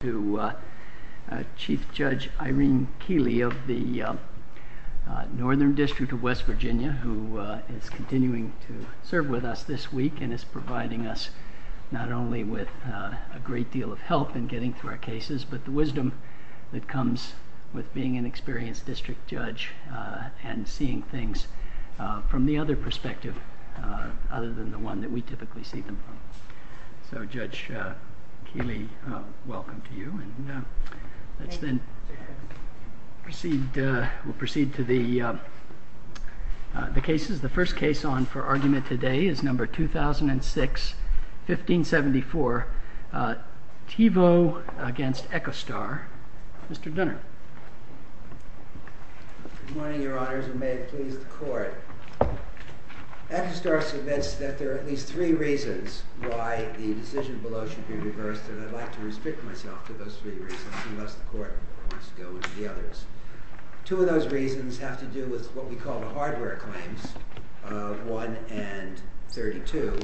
to Chief Judge Irene Keeley of the Northern District of West Virginia, who is continuing to serve with us this week and is providing us not only with a great deal of help in getting to our cases, but the wisdom that comes with being an experienced district judge and seeing things from the other perspective, other than the one that we typically see them from. So Judge Keeley, welcome to you. And we'll proceed to the cases. The first case on for argument today is number 2006-1574, TIVO v. Echostar. Mr. Dunner. Good morning, Your Honors, and may it please the Court. Echostar submits that there are at least three reasons why the decision below should be reversed, and I'd like to restrict myself to those three reasons, and thus the Court wants to deal with the others. Two of those reasons have to do with what we call the hardware claims, 1 and 32.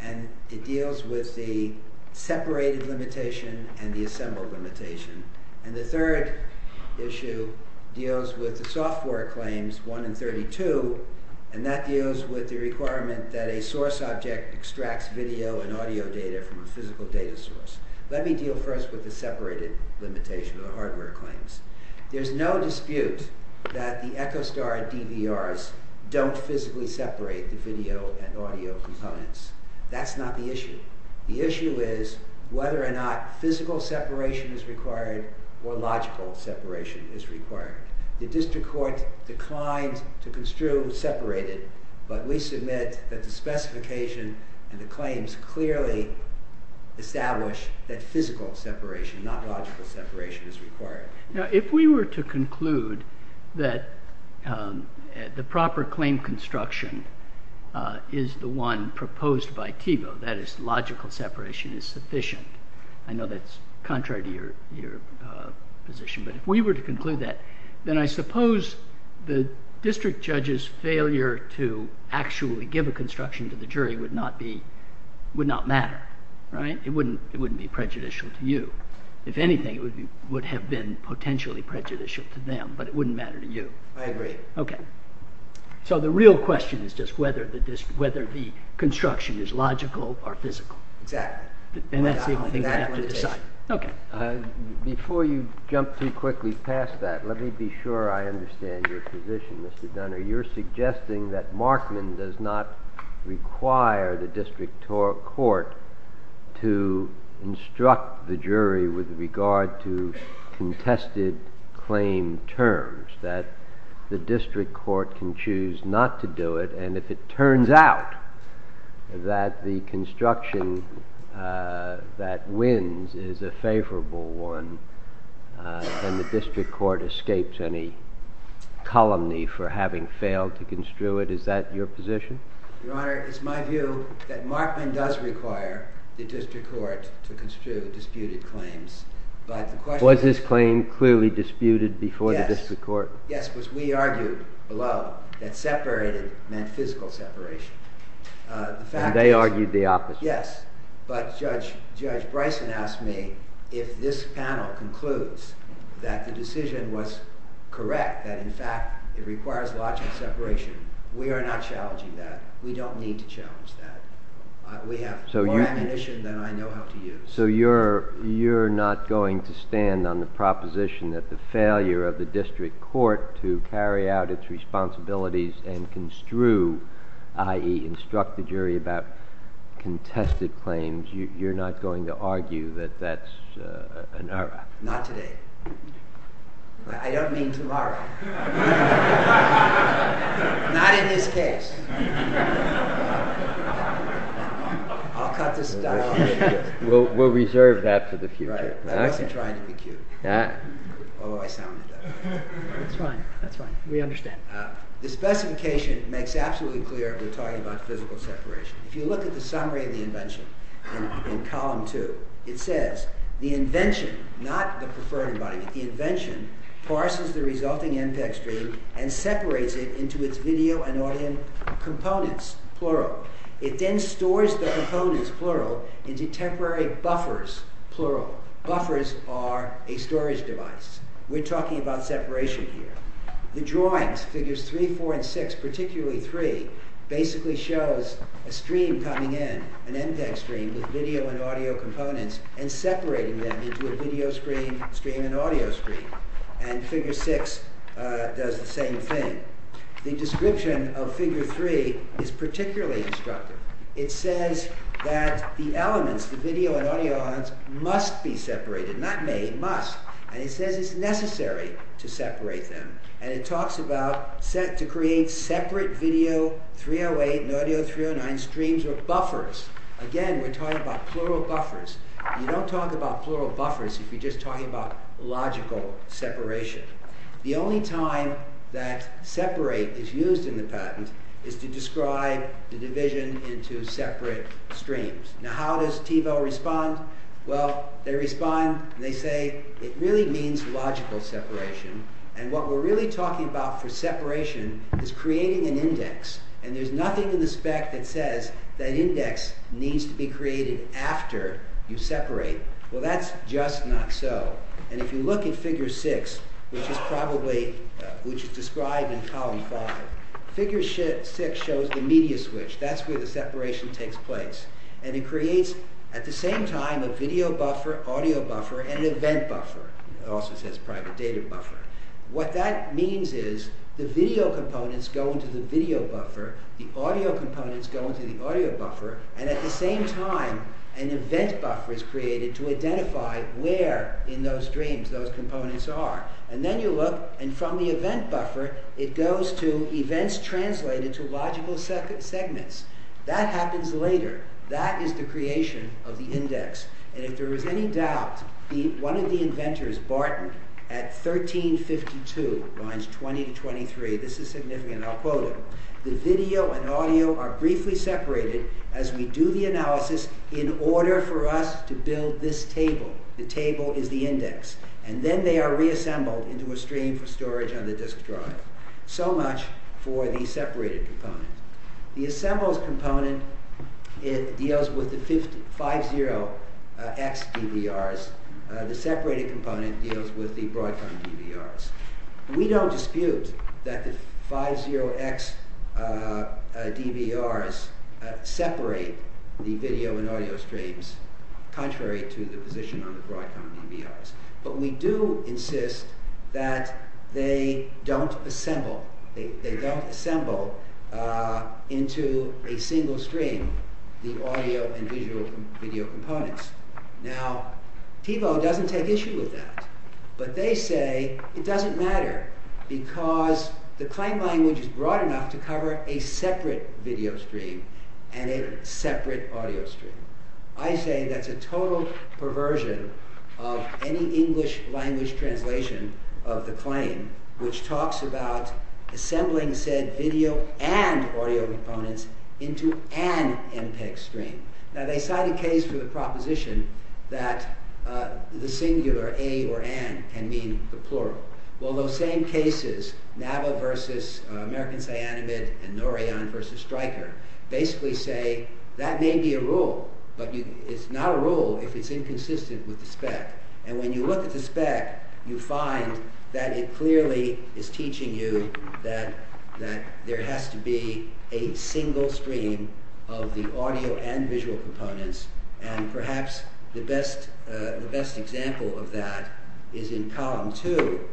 And it deals with the separated limitation and the assembled limitation. And the third issue deals with the software claims, 1 and 32, and that deals with the requirement that a source object extracts video and audio data from a physical data source. Let me deal first with the separated limitation of the hardware claims. There's no dispute that the Echostar DVRs don't physically separate the video and audio components. That's not the issue. The issue is whether or not physical separation is required or logical separation is required. The District Court declined to construe separated, but we submit that the specification and the claims clearly establish that physical separation, not logical separation, is required. Now, if we were to conclude that the proper claim construction is the one proposed by TIVO, that is, logical separation is sufficient, I know that's contrary to your position, but if we were to conclude that, then I suppose the district judge's failure to actually give a construction to the jury would not matter, right? It wouldn't be prejudicial to you. If anything, it would have been potentially prejudicial to them, but it wouldn't matter to you. I agree. Okay. So the real question is just whether the construction is logical or physical. Exactly. In that case, I think we have to decide. Okay. Before you jump too quickly past that, let me be sure I understand your position, Mr. Dunner. You're suggesting that Markman does not require the District Court to instruct the jury with regard to whether the District Court can choose not to do it, and if it turns out that the construction that wins is a favorable one, can the District Court escape any colony for having failed to construe it? Is that your position? Your Honor, it's my view that Markman does require the District Court to construe the disputed claims. Was this claim clearly disputed before the District Court? Yes, because we argued below that separated meant physical separation. And they argued the opposite? Yes. But Judge Bryson asked me if this panel concludes that the decision was correct, that in fact it requires logical separation, we are not challenging that. We don't need to challenge that. We have more recognition than I know how to use. So you're not going to stand on the proposition that the failure of the District Court to carry out its responsibilities and construe, i.e., instruct the jury about contested claims, you're not going to argue that that's an R.I.P.? Not today. I don't mean tomorrow. Not in this case. We'll reserve that for the future. I'm actually trying to be cute. That's fine. We understand. The specification makes absolutely clear that we're talking about physical separation. If you look at the summary of the invention in column 2, it says, the invention, not the preferred invite, the invention, parses the resulting MPEG screen and separates it into its video and audio, components, plural. It then stores the components, plural, into temporary buffers, plural. Buffers are a storage device. We're talking about separation here. The drawings, figures 3, 4 and 6, particularly 3, basically shows a stream coming in, an MPEG stream with video and audio components and separating them into a video stream, stream and audio stream. And figure 6 does the same thing. The description of figure 3 is particularly instructive. It says that the elements, the video and audio elements, must be separated, not made, must. And it says it's necessary to separate them. And it talks about, set to create separate video 308 and audio 309 streams or buffers. Again, we're talking about plural buffers. You don't talk about plural buffers if you're just talking about logical separation. The only time that separate is used in the patent is to describe the division into separate streams. Now, how does TiVo respond? Well, they respond, they say, it really means logical separation. And what we're really talking about for separation is creating an index. And there's nothing in the spec that says that index needs to be created after you separate. Well, that's just not so. And if you look at figure 6, which is described in column 5, figure 6 shows the media switch. That's where the separation takes place. And it creates, at the same time, a video buffer, audio buffer and event buffer. It also says private data buffer. What that means is the video components go into the video buffer, the audio components go into the audio buffer, and at the same time, an event buffer is created to identify where in those streams those components are. And then you look, and from the event buffer, it goes to events translated to logical segments. That happens later. That is the creation of the index. And if there was any doubt, one of the inventors, Barton, at 1352, lines 20 to 23, this is significant, I'll quote it, the video and audio are briefly separated as we do the analysis in order for us to build this table. The table is the index. And then they are reassembled into a stream for storage on the disk drive. So much for the separated component. The assembled component, it deals with the 50X DVRs. The separated component deals with the Broadcom DVRs. We don't dispute that the 50X DVRs separate the video and audio streams contrary to the position of the Broadcom DVRs. But we do insist that they don't assemble, they don't assemble into a single stream the audio and visual video components. Now, Pico doesn't take issue with that. But they say it doesn't matter because the claim language is broad enough to cover a separate video stream and a separate audio stream. I say that's a total perversion of any English language translation of the claim which talks about assembling said video and audio component into an MPEG stream. Now, they cite a case with a proposition that the singular A or AN can mean a plural. Well, those same cases, Navel versus American Cyanamid and Norion versus Striker, basically say that may be a rule, but it's not a rule if it's inconsistent with the spec. And when you look at the spec, you find that it clearly is teaching you that there has to be a single stream of the audio and visual components and perhaps the best example of that is in column 2.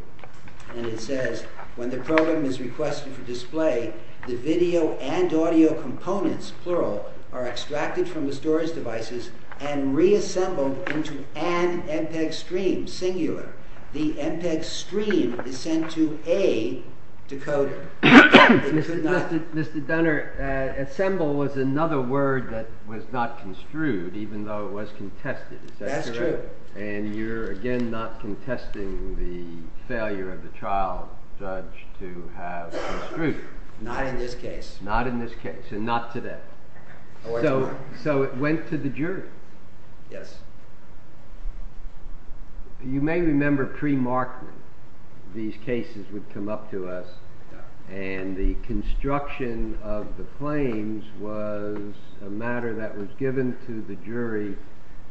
And it says, when the program is requested for display, the video and audio components, plural, are extracted from the storage devices and reassembled into an MPEG stream, singular. The MPEG stream is sent to A to code it. Mr. Dunner, assemble was another word that was not construed even though it was contested. That's true. And you're again not contesting the failure of the trial judge to have construed. Not in this case. Not in this case and not today. So it went to the jury. Yes. You may remember pre-marking. These cases would come up to us and the construction of the claims was a matter that was given to the jury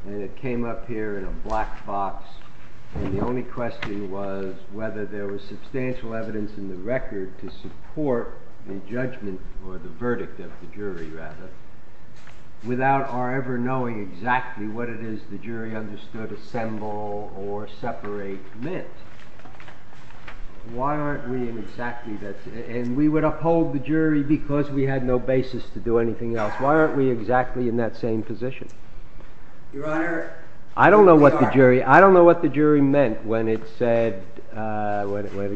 and it came up here in a black box and the only question was whether there was substantial evidence in the record to support the judgment or the verdict of the jury, rather, without our ever knowing exactly what it is the jury understood assemble or separate meant. Why aren't we in exactly that? And we would uphold the jury because we had no basis to do anything else. Why aren't we exactly in that same position? Your Honor. I don't know what the jury meant when it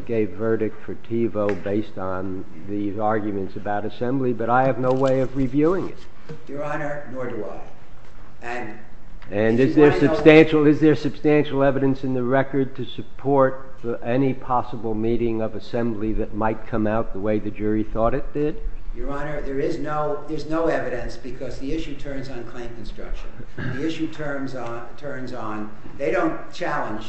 gave verdict for Tevo based on these arguments about assembly but I have no way of reviewing it. Your Honor. Nor do I. And is there substantial evidence in the record to support any possible meeting of assembly that might come out the way the jury thought it did? Your Honor. There is no evidence because the issue turns on claim construction. The issue turns on... They don't challenge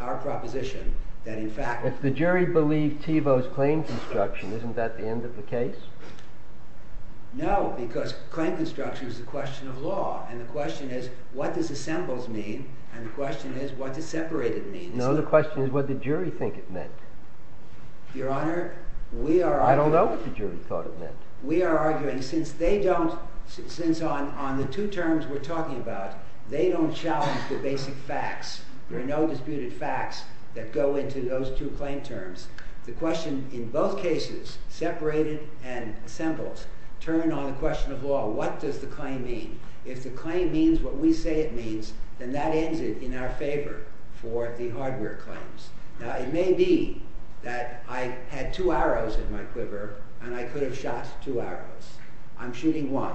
our proposition that in fact... But the jury believed Tevo's claim construction. Isn't that the end of the case? No, because claim construction is a question of law and the question is what does assembled mean and the question is what does separated mean. No, the question is what did jury think it meant. Your Honor. I don't know what the jury thought it meant. We are arguing since they don't... Since on the two terms we're talking about they don't challenge the basic facts. There are no disputed facts that go into those two claim terms. The question in both cases, separated and assembled, turn on the question of law. What does the claim mean? If the claim means what we say it means then that ends it in our favor for the hardware claims. Now it may be that I had two arrows in my quiver and I could have shot two arrows. I'm shooting one.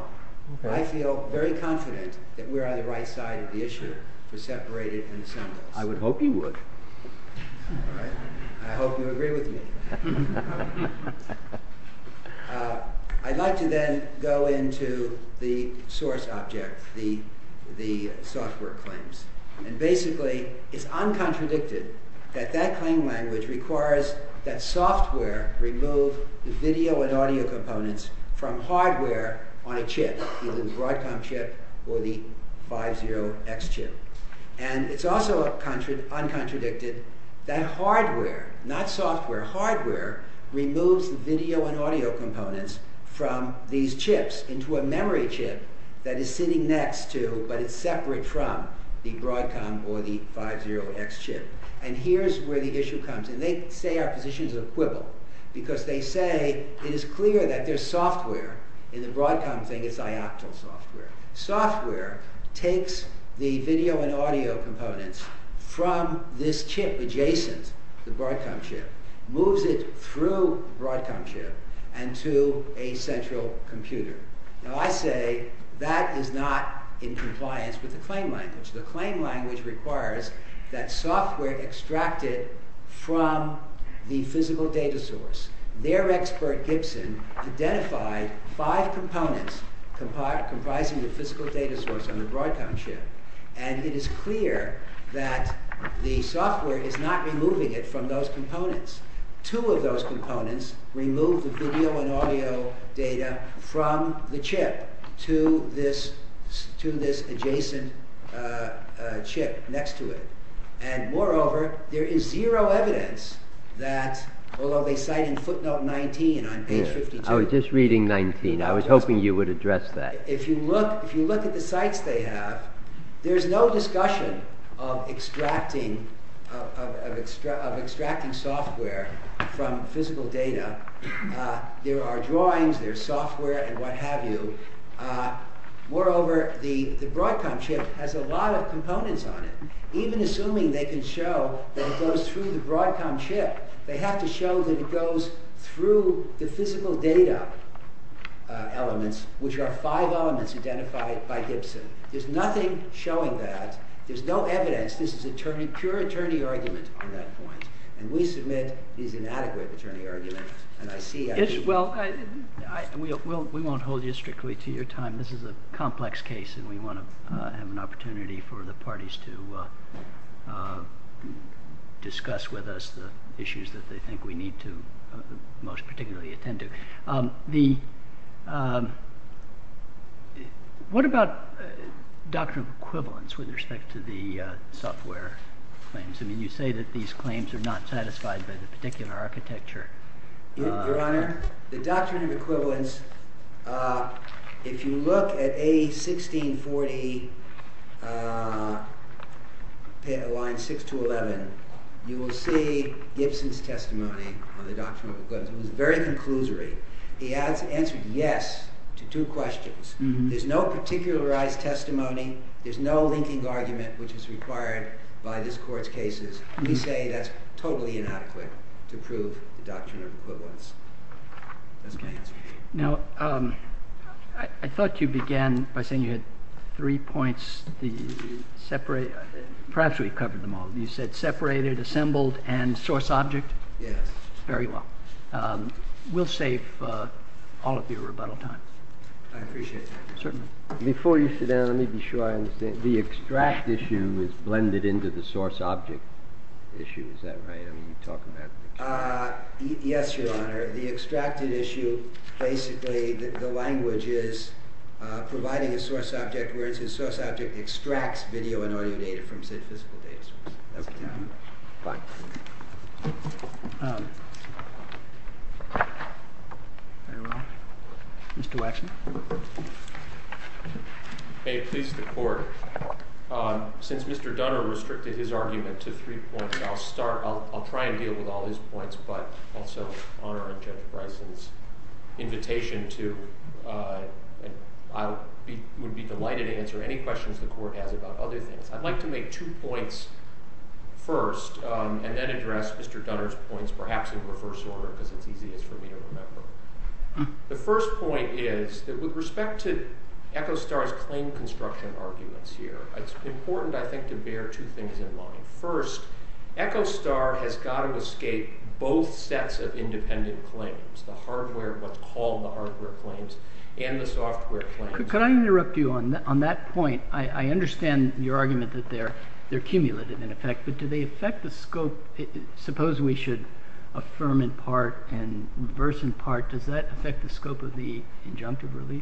I feel very confident that we're on the right side of the issue for separated and assembled. I would hope you would. All right. I hope you agree with me. I'd like to then go into the source object, the software claims. And basically it's uncontradicted that that claim language requires that software remove the video and audio components from hardware on a chip, either the Broadcom chip or the 50X chip. And it's also uncontradicted that hardware, not software, hardware removes the video and audio components from these chips into a memory chip that is sitting next to, but it's separate from the Broadcom or the 50X chip. And here's where the issue comes. And they say our position is equivalent because they say it is clear that there's software in the Broadcom thing, it's iactual software. Software takes the video and audio components from this chip adjacent, the Broadcom chip, moves it through Broadcom chip and to a central computer. Now I say that is not in compliance with the claim language. The claim language requires that software extract it from the physical data source. Their expert, Gibson, identified five components comprising the physical data source on the Broadcom chip. And it is clear that the software is not removing it from those components. Two of those components remove the video and audio data from the chip to this adjacent chip next to it. And moreover, there is zero evidence that although they cited footnote 19 on page 52. I was just reading 19. I was hoping you would address that. If you look at the sites they have, there's no discussion of extracting software from physical data. There are drawings, there's software and what have you. Moreover, the Broadcom chip has a lot of components on it. Even assuming they can show that it goes through the Broadcom chip, they have to show that it goes through the physical data elements, which are five elements identified by Gibson. There's nothing showing that. There's no evidence. This is pure attorney argument on that point. And we submit the inadequate attorney argument. And I see... Well, we won't hold you strictly to your time. This is a complex case, and we want to have an opportunity for the parties to discuss with us the issues that they think we need to most particularly attend to. What about doctrinal equivalence with respect to the software claims? I mean, you say that these claims are not satisfied by the particular architecture. Your Honor, the doctrinal equivalence, if you look at A1640, line 6 to 11, you will see Gibson's testimony on the doctrinal equivalence. It was very conclusory. He answered yes to two questions. There's no particularized testimony. There's no linking argument, which is required by this Court's cases. We say that's totally inadequate to prove doctrinal equivalence. Okay. Now, I thought you began by saying you had three points. Perhaps we've covered them all. You said separated, assembled, and source-object? Yes. Very well. We'll save all of your rebuttal time. I appreciate that. Certainly. Before you sit down, let me be sure I understand. The extract issue is blended into the source-object issue. Is that what you're talking about? Yes, Your Honor. The extracted issue, basically, the language is providing a source-object, whereas the source-object extracts video and audio data from statistical data sources. Okay. Fine. Mr. Waxman? Okay. Please, the Court. Since Mr. Dunner restricted his argument to three points, I'll try and deal with all his points, but also honor Object Price's invitation to... I would be delighted to answer any questions the Court has about other things. I'd like to make two points first and then address Mr. Dunner's points, perhaps in reverse order, because it would be easier for me to remember. The first point is, with respect to Echostar's claim construction arguments here, it's important, I think, to bear two things in mind. First, Echostar has got to escape both sets of independent claims, the hardware of what's called the hardware claims and the software claims. Could I interrupt you on that point? I understand your argument that they're cumulative, in effect, but do they affect the scope? Suppose we should affirm in part and reverse in part. Does that affect the scope of the injunctive relief?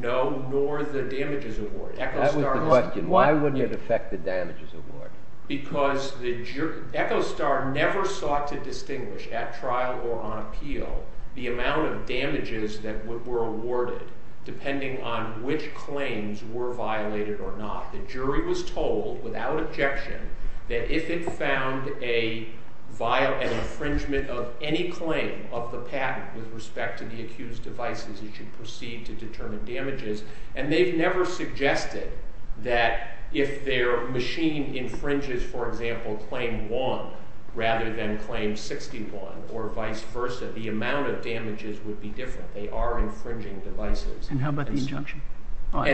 No, nor the damages awarded. That was the question. Why wouldn't it affect the damages awarded? Because the jury... Echostar never sought to distinguish at trial or on appeal the amount of damages that were awarded depending on which claims were violated or not. The jury was told, without objection, that if it found an infringement of any claim of the patent with respect to the accused devices, it should proceed to determine damages. And they never suggested that if their machine infringes, for example, claim 1 rather than claim 61 or vice versa, the amount of damages would be different. They are infringing devices. And how about the injunction? The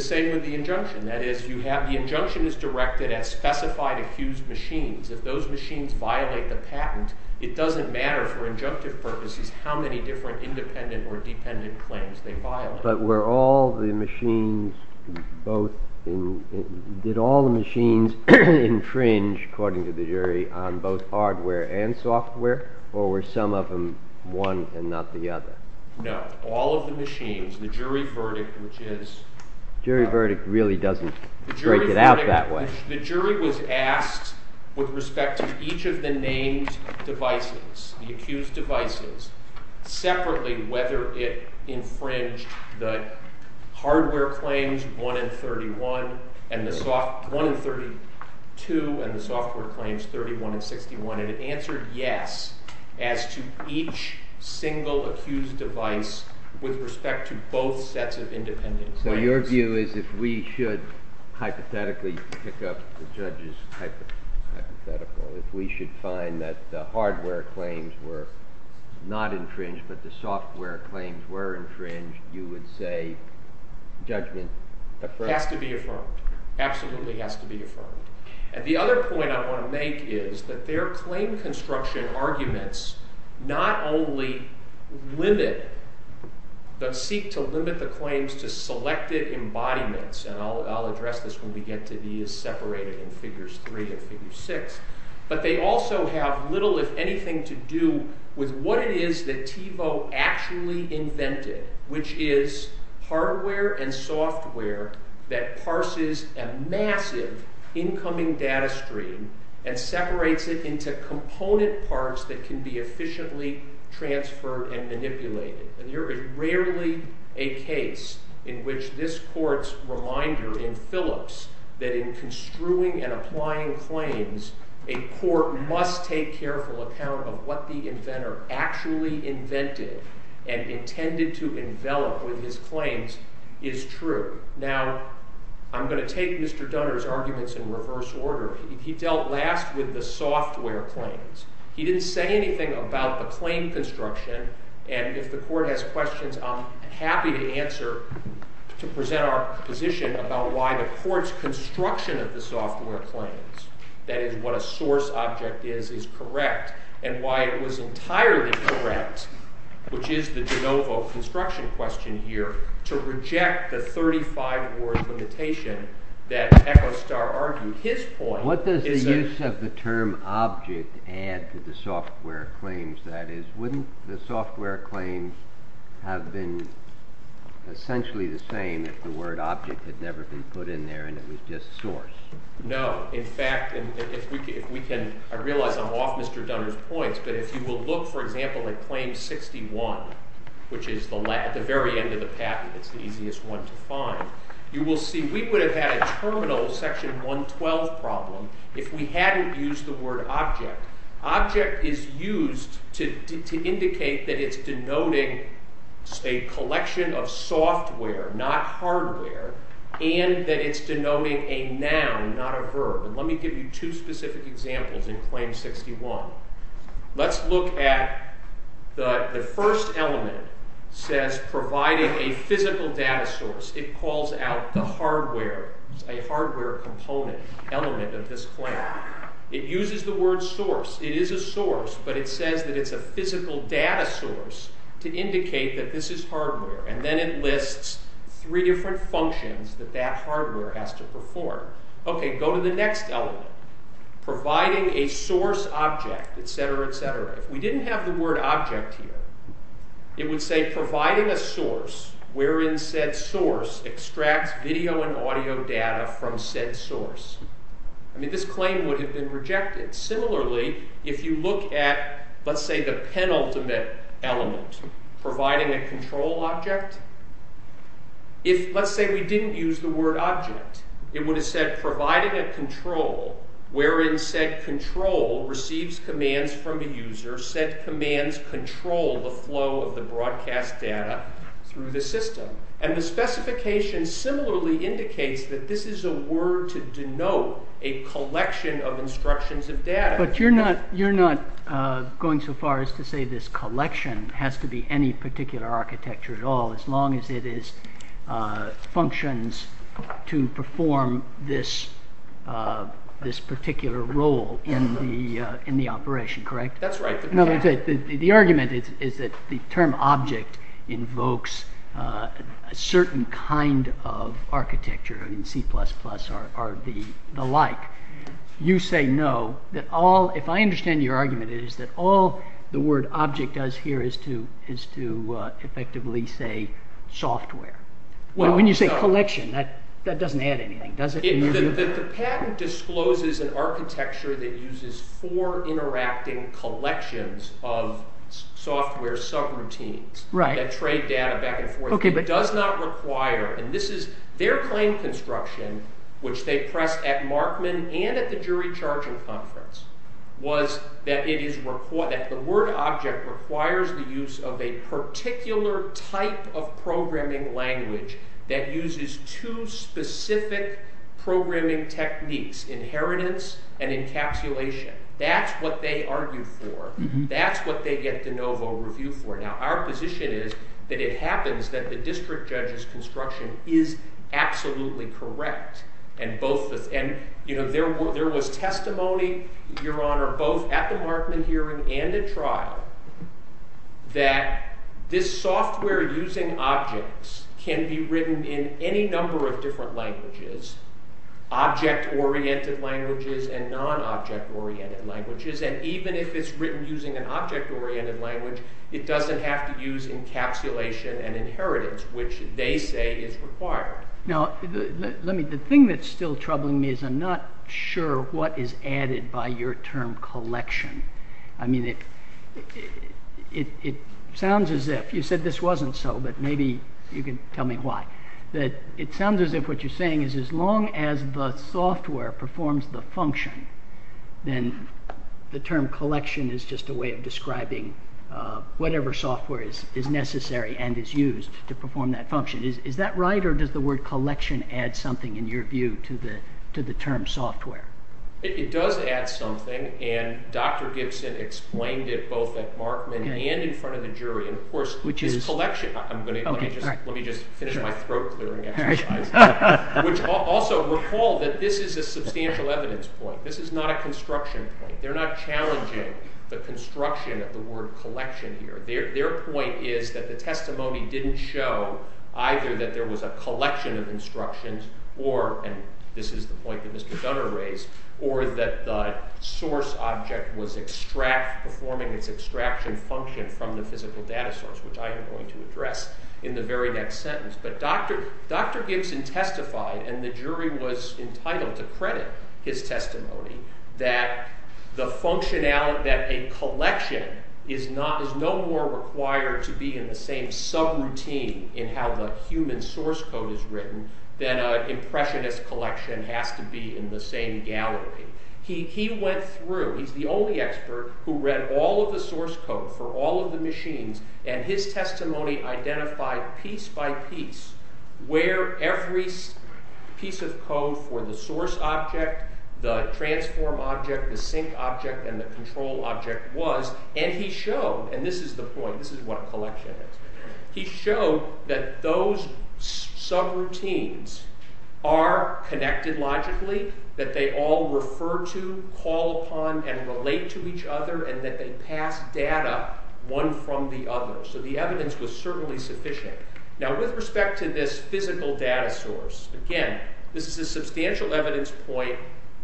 same with the injunction. That is, the injunction is directed at specified accused machines. If those machines violate the patent, it doesn't matter for injunctive purposes how many different independent or dependent claims they file. But did all the machines infringe, according to the jury, on both hardware and software, or were some of them one and not the other? No, all of the machines. The jury verdict, which is... The jury verdict really doesn't break it out that way. The jury was asked with respect to each of the named devices, the accused devices, separately whether it infringed the hardware claims 1 and 32 and the software claims 31 and 61. And it answered yes as to each single accused device with respect to both sets of independent claims. So your view is if we should hypothetically pick up the judge's hypothetical, if we should find that the hardware claims were not infringed but the software claims were infringed, you would say judgment... Has to be affirmed. Absolutely has to be affirmed. And the other point I want to make is that their claim construction arguments not only limit, but seek to limit the claims to selected embodiments, and I'll address this when we get to these separated in Figures 3 and Figure 6, but they also have little, if anything, to do with what it is that Thiebaud actually invented, which is hardware and software that parses a massive incoming data stream and separates it into component parts that can be efficiently transferred and manipulated. And you're rarely a case in which this court's reminder in Phillips that in construing and applying claims, a court must take careful account of what the inventor actually invented and intended to envelop in his claims is true. Now, I'm going to take Mr. Dunner's arguments in reverse order. He dealt last with the software claims. He didn't say anything about the claim construction, and if the court has questions, I'm happy to answer to present our position about why the court's construction of the software claims, that is, what a source object is, is correct, and why it was entirely correct, which is the de novo construction question here, to reject the 35-word limitation that Echo Star argued his point... What does the use of the term object add to the software claims? That is, wouldn't the software claims have been essentially the same if the word object had never been put in there and it was just source? No. In fact, if we can... I realize I'm off Mr. Dunner's points, but if you will look, for example, at claim 61, which is the very end of the patent, it's the easiest one to find, you will see we would have had a terminal section 112 problem if we hadn't used the word object. Object is used to indicate that it's denoting a collection of software, not hardware, and that it's denoting a noun, not a verb. Let me give you two specific examples in claim 61. Let's look at... The first element says providing a physical data source. It calls out the hardware, a hardware component element of this claim. It uses the word source. It is a source, but it says that it's a physical data source to indicate that this is hardware, and then it lists three different functions that that hardware has to perform. Okay, go to the next element. Providing a source object, etc., etc. If we didn't have the word object here, it would say providing a source wherein said source extracts video and audio data from said source. I mean, this claim would have been rejected. Similarly, if you look at, let's say, the penultimate element, providing a control object, if, let's say, we didn't use the word object, it would have said providing a control wherein said control receives commands from a user, or said commands control the flow of the broadcast data through the system. And the specification similarly indicates that this is a word to denote a collection of instructions and data. But you're not going so far as to say this collection has to be any particular architecture at all, as long as it is functions to perform this particular role in the operation, correct? That's right. The argument is that the term object invokes a certain kind of architecture, and C++ are the like. You say no. If I understand your argument, it is that all the word object does here is to effectively say software. Well, when you say collection, that doesn't add anything, does it? The patent discloses an architecture that uses four interacting collections of software subroutines that trade data back and forth. It does not require, and this is their claim construction, which they pressed at Markman and at the jury charging conference, was that the word object requires the use of a particular type of programming language that uses two specific programming techniques, inheritance and encapsulation. That's what they argued for. That's what they get de novo review for. Now, our position is that it happens that the district judge's construction is absolutely correct. And there was testimony, your honor, both at the Markman hearing and the trial that this software using objects can be written in any number of different languages, object-oriented languages and non-object-oriented languages. And even if it's written using an object-oriented language, it doesn't have to use encapsulation and inheritance, which they say is required. Now, the thing that's still troubling me is I'm not sure what is added by your term collection. I mean, it sounds as if you said this wasn't so, but maybe you can tell me why. That it sounds as if what you're saying is as long as the software performs the function, then the term collection is just a way of describing whatever software is necessary and is used to perform that function. Is that right, or does the word collection add something, in your view, to the term software? It does add something, and Dr. Gibson explained it both at Markman and in front of the jury. Of course, which is collection. Let me just finish my throat clearing. Also, recall that this is a substantial evidence point. This is not a construction point. They're not challenging the construction of the word collection here. Their point is that the testimony didn't show either that there was a collection of instructions, or, and this is the point that Mr. Gunner raised, or that the source object was performing its extraction function from the physical data source, which I am going to address in the very next sentence, but Dr. Gibson testified, and the jury was entitled to credit his testimony, that the functionality, that a collection is no more required to be in the same subroutine in how the human source code is written than an impressionist collection has to be in the same gallery. He went through, he's the only expert who read all of the source code for all of the machines, and his testimony identified piece by piece where every piece of code for the source object, the transform object, the sync object, and the control object was, and he showed, and this is the point, this is what a collection is, he showed that those subroutines are connected logically, that they all refer to, call upon, and relate to each other, and that they pass data one from the other, so the evidence was certainly sufficient. Now with respect to this physical data source, again, this is a substantial evidence point,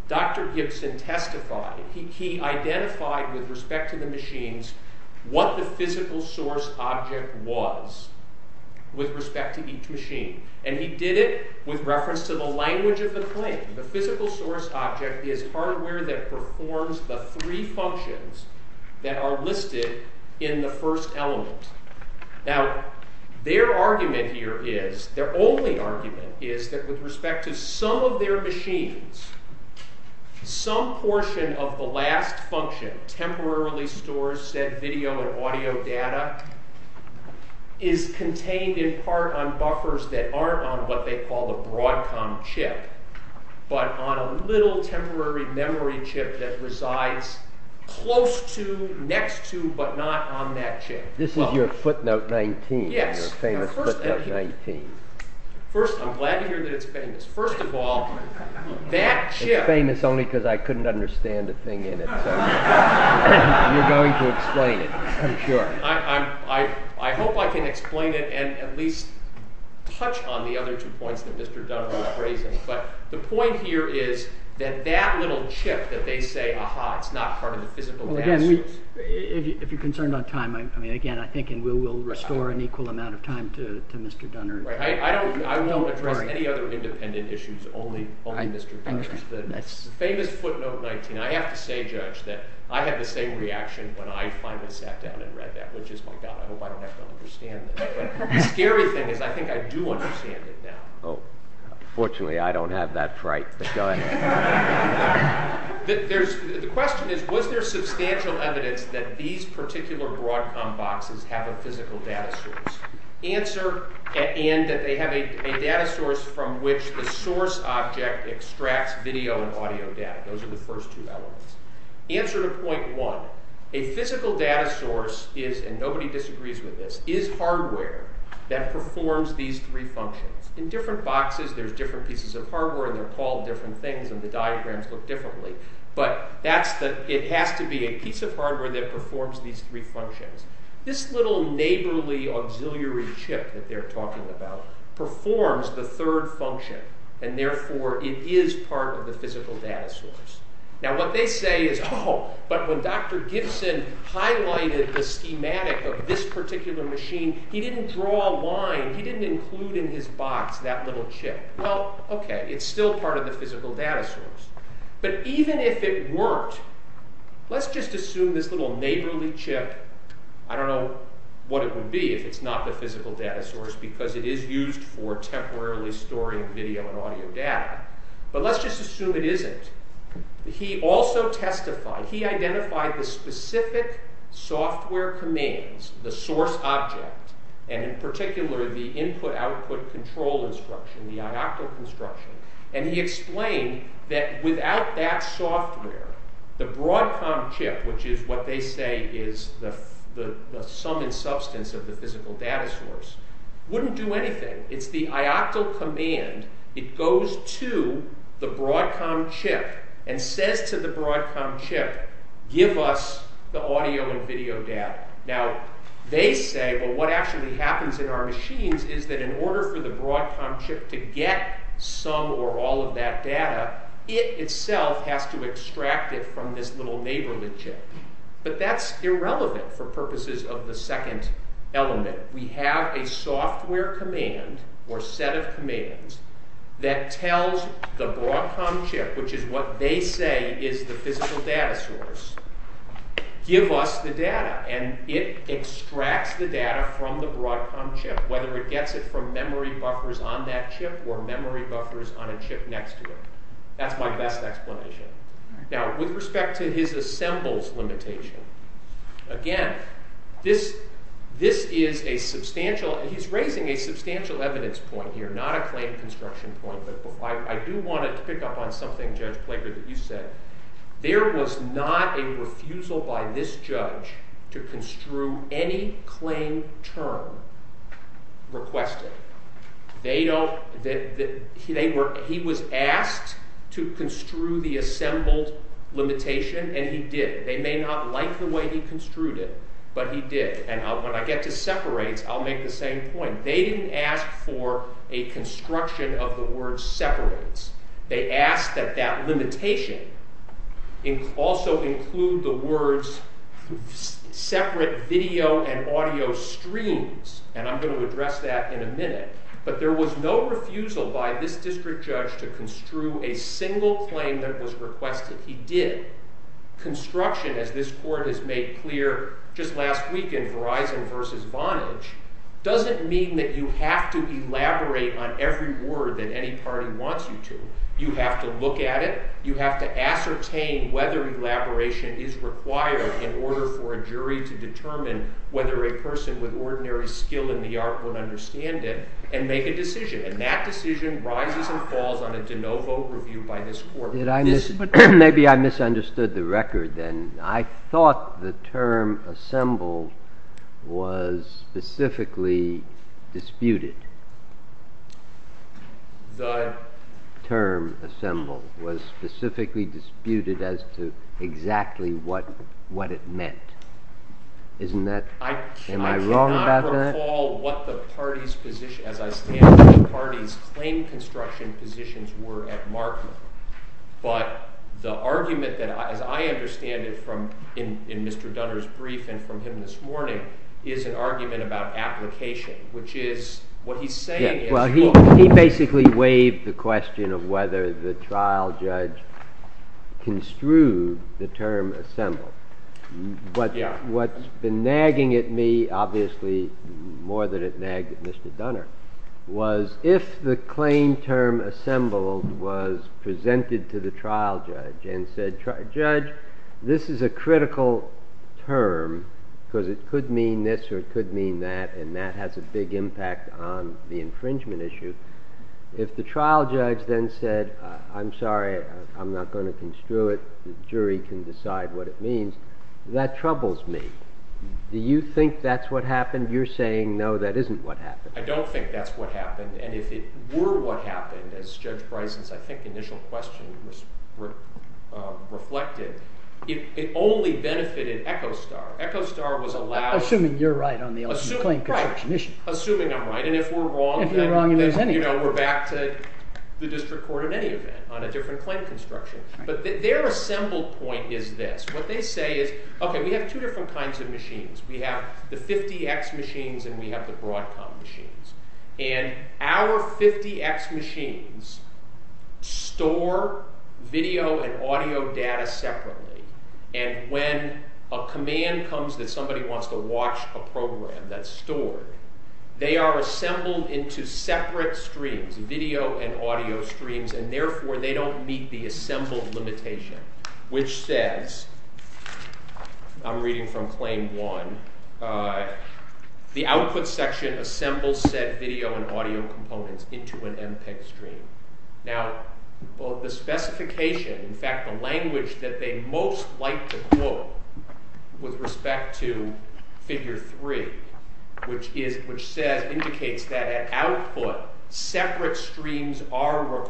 Dr. Gibson testified, he identified with respect to the machines what the physical source object was with respect to each machine, and he did it with reference to the language of the claim, the physical source object is hardware that performs the three functions that are listed in the first element. Now, their argument here is, their only argument is that with respect to some of their machines, some portion of the last function temporarily stores said video or audio data is contained in part on buffers that aren't on what they call the Broadcom chip, but on a little temporary memory chip that resides close to, next to, but not on that chip. This is your footnote 19, your famous footnote 19. First, I'm glad to hear that it's famous. First of all, that chip... It's famous only because I couldn't understand the thing in it. You're going to explain it, I'm sure. I hope I can explain it and at least touch on the other two points that Mr. Dunner is raising. The point here is that that little chip that they say, ah-ha, it's not part of the physical master... If you're concerned about time, again, I think we'll restore an equal amount of time to Mr. Dunner. I don't know of any other independent issues, only Mr. Dunner's. The famous footnote 19, I have to say, Judge, that I had the same reaction when I finally sat down and read that logistical document. I hope I can understand it. The scary thing is I think I do understand it now. Fortunately, I don't have that fright. The question is was there substantial evidence that these particular broad thumb boxes have a physical data source? And that they have a data source from which the source object extracts video and audio data. Those are the first two elements. Answer to point one, a physical data source is, and nobody disagrees with this, is hardware that performs these three functions. In different boxes there's different pieces of hardware and they're called different things and the diagrams look differently, but it has to be a piece of hardware that performs these three functions. This little neighborly auxiliary chip that they're talking about performs the third function, and therefore it is part of the physical data source. Now what they say is, oh, but when Dr. Gibson highlighted the schematic of this particular machine, he didn't draw a line, he didn't include in his box that little chip. Well, okay, it's still part of the physical data source. But even if it worked, let's just assume this little neighborly chip, I don't know what it would be if it's not the physical data source because it is used for temporarily storing video and audio data, but let's just assume it isn't. He also testified, he identified the specific software commands, the source object, and in particular the input-output control instruction, the IOCTL instruction, and he explained that without that software the Broadcom chip, which is what they say is the sum and substance of the physical data source, wouldn't do anything. It's the IOCTL command, it goes to the Broadcom chip and says to the Broadcom chip give us the audio and video data. Now, they say, but what actually happens in our machines is that in order for the Broadcom chip to get some or all of that data, it itself has to extract it from this little neighborly chip. But that's irrelevant for purposes of the second element. We have a software command, or set of commands, that tells the Broadcom chip, which is what they say is the physical data source, give us the data, and it extracts the data from the Broadcom chip, whether it gets it from memory buffers on that chip or memory buffers on a chip next to it. That's my best explanation. Now, with respect to his assembles limitation, again, this is a substantial, and he's raising a substantial evidence point here, not a I do want to pick up on something, Judge Pleasure, that you said. There was not a refusal by this judge to construe any claim term requested. They don't, he was asked to construe the assembles limitation, and he did. They may not like the way he construed it, but he did. And when I get to separates, I'll make the same point. They didn't ask for a limitation. They asked that that limitation also include the words separate video and audio streams, and I'm going to address that in a minute. But there was no refusal by this district judge to construe a single claim that was requested. He did. Construction, as this court has made clear just last week in Verizon versus Vonage, doesn't mean that you have to elaborate on every word that any party wants you to. You have to look at it. You have to ascertain whether elaboration is required in order for a jury to determine whether a person with ordinary skill in the art would understand it and make a decision. And that decision rises and falls on a de novo review by this court. Maybe I misunderstood the record then. I thought the term assemble was specifically disputed. The term assemble was specifically disputed as to exactly what it meant. Am I wrong about that? I cannot recall what the party's claim construction positions were at market, but the argument that I understand from Mr. Dunner's brief and from him this morning is an argument about application, which is what he's saying is... He basically waived the question of whether the trial judge construed the term assemble. But what's been nagging at me, obviously more than it nagged at Mr. Dunner, was if the claim term assemble was presented to the trial judge and said, judge, this is a critical term, because it could mean this or it could mean that, and that has a big impact on the infringement issue. If the trial judge then said, I'm sorry, I'm not going to construe it, the jury can decide what it means, that troubles me. Do you think that's what happened? You're saying, no, that isn't what happened. I don't think that's what happened, and if it were what happened, as Judge Bryson's, I think, initial question reflected, it only benefited Echostar. Echostar was allowed... Assuming you're right on the claim commission. Assuming I'm right, and if we're wrong, then we're back to the district court in any event on a different claim construction. But their assembled point is this. What they say is, okay, we have two different kinds of machines. We have the 50x machines and we have the Broadcom machines. And our 50x machines store video and audio data separately, and when a command comes that somebody wants to watch a program that's stored, they are assembled into separate streams, video and audio streams, and therefore they don't meet the assembled limitation, which says, I'm reading from claim one, the output section assembles said video and audio components into an MPEG stream. Now, the specification, in fact the language that they most like to put with respect to figure three, which indicates that at output, separate streams are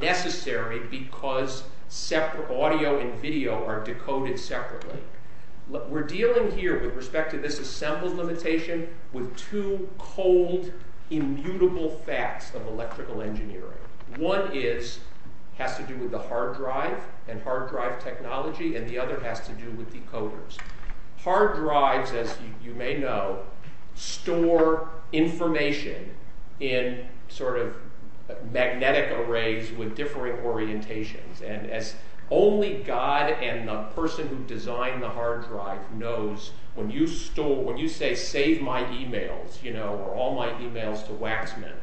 necessary because audio and video are decoded separately. We're dealing here with respect to this assembled limitation with two cold, immutable facts of electrical engineering. One has to do with the hard drive and hard drive technology, and the other has to do with decoders. Hard drives, as you may know, store information in sort of magnetic arrays with different orientations, and only God and the person who designed the hard drive knows when you say, save my emails, or all my emails to Waxman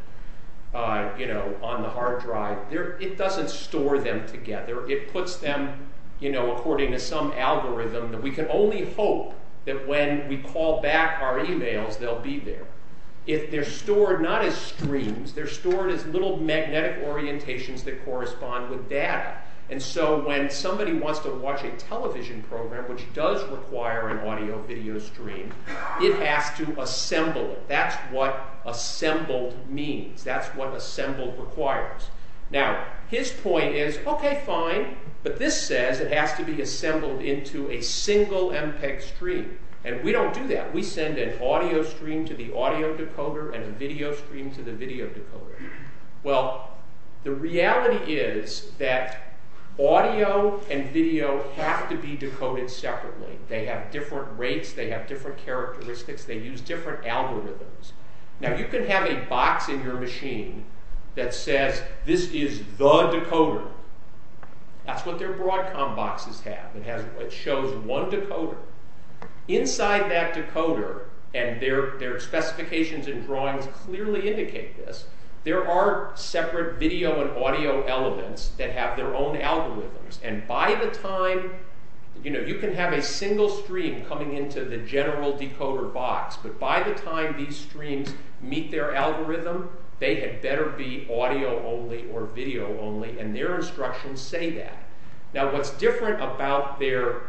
on the hard drive. It doesn't store them together. It puts them according to some algorithm that we can only hope that when we call back our emails, they'll be there. They're stored not as streams, they're stored as little magnetic orientations that correspond with data. And so when somebody wants to watch a television program, which does require an audio-video stream, it has to assemble it. That's what assembled means. That's what assembled requires. Now, his point is, okay, fine, but this says it has to be assembled into a single MPEG stream, and we don't do that. We send an audio stream to the audio decoder, and a video stream to the video decoder. Well, the reality is that audio and video have to be decoded separately. They have different rates, they have different characteristics, they use different algorithms. Now, you can have a box in your machine that says, this is the decoder. That's what their Broadcom boxes have. It shows one decoder. Inside that decoder, and their specifications and drawings clearly indicate this, there are separate video and audio elements that have their own algorithms, and by the time these streams meet their algorithm, they had better be audio only or video only, and their instructions say that. Now, what's different about their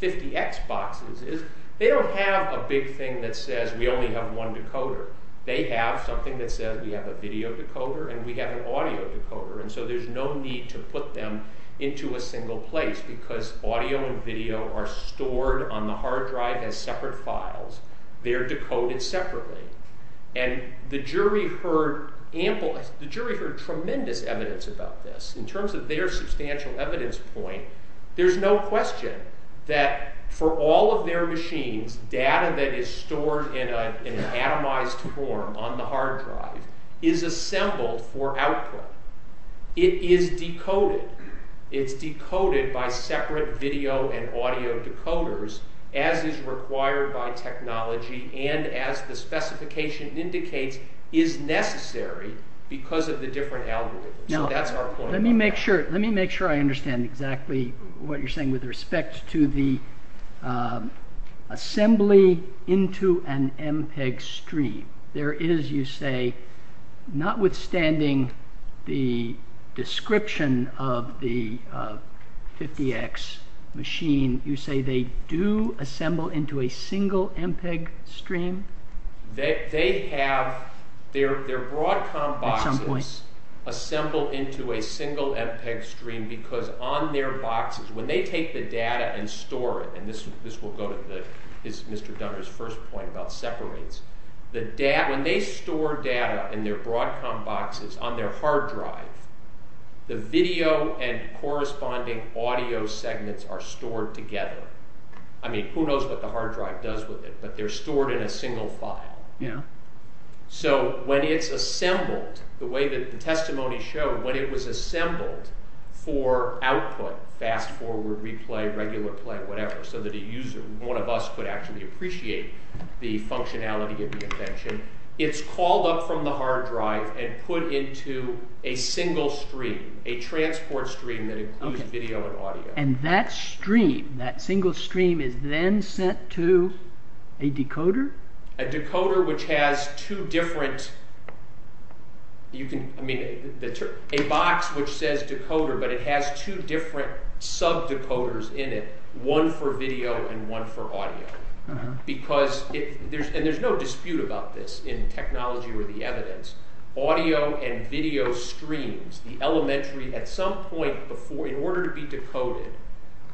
50X boxes is they don't have a big thing that says we only have one decoder. They have something that says we have a video decoder, and we have an audio decoder, and so there's no need to put them into a single place, because audio and video are stored on the hard drive as separate files. They're decoded separately, and the jury heard tremendous evidence about this. In terms of their substantial evidence point, there's no question that for all of their machines, data that is stored in an atomized form on the hard drive is assembled for output. It is decoded. It's decoded by separate video and audio decoders as is required by technology, and as the specification indicates, is necessary because of the different algorithms. Let me make sure I understand exactly what you're saying with respect to the assembly into an MPEG stream. There is, you say, notwithstanding the description of the 50X machine, you say they do assemble into a single MPEG stream? They have their Broadcom boxes assembled into a single MPEG stream because on their boxes, when they take the data and store it, and this will go to Mr. Dunbar's first point about separators, when they store data in their Broadcom boxes on their hard drive, the video and corresponding audio segments are stored together. I mean, who knows what the hard drive does with it, but they're stored in a single file. So, when it's assembled the way that the testimony showed, when it was assembled for output, fast forward, replay, regular play, whatever, so that a user, one of us, could actually appreciate the functionality of the invention, it's called up from the hard drive and put into a single stream, a transport stream that includes video and audio. And that stream, that single stream is then sent to a decoder? A decoder which has two different... a box which says decoder, but it has two different sub-decoders in it, one for video and one for audio, because there's no dispute about this in technology or the evidence. Audio and video streams, the elementary, at some point before, in order to be decoded,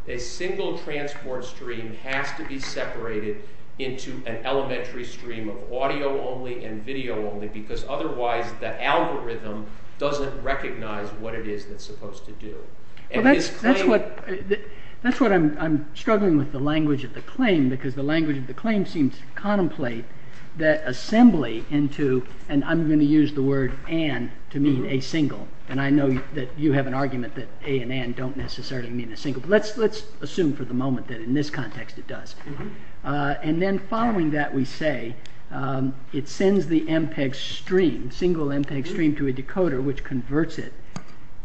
a single transport stream has to be separated into an elementary stream of audio only and video only because otherwise the algorithm doesn't recognize what it is it's supposed to do. That's what I'm struggling with the language of the claim because the language of the claim seems to contemplate that assembly into, and I'm going to use the word an to mean a single and I know that you have an argument that a and an don't necessarily mean a single but let's assume for the moment that in this context it does. And then following that we say it sends the MPEG stream, single MPEG stream to a decoder which converts it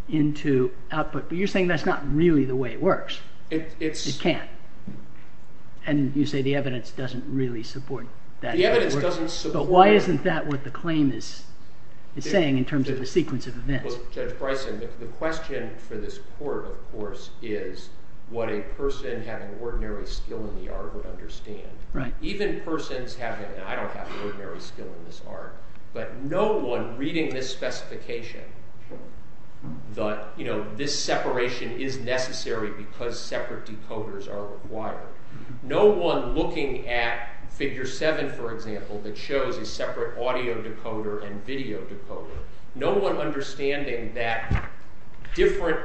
into output. But you're saying that's not really the way it works. It can't. And you say the evidence doesn't really support that. Why isn't that what the claim is saying in terms of the sequence of events? Well, Senator Price, the question for this court, of course, is what a person having ordinary skill in the art would understand. Even persons having, I don't have ordinary skill in this art, but no one reading this specification thought, you know, this separation is necessary because separate audio decoders are required. No one looking at Figure 7, for example, that shows a separate audio decoder and video decoder, no one understanding that different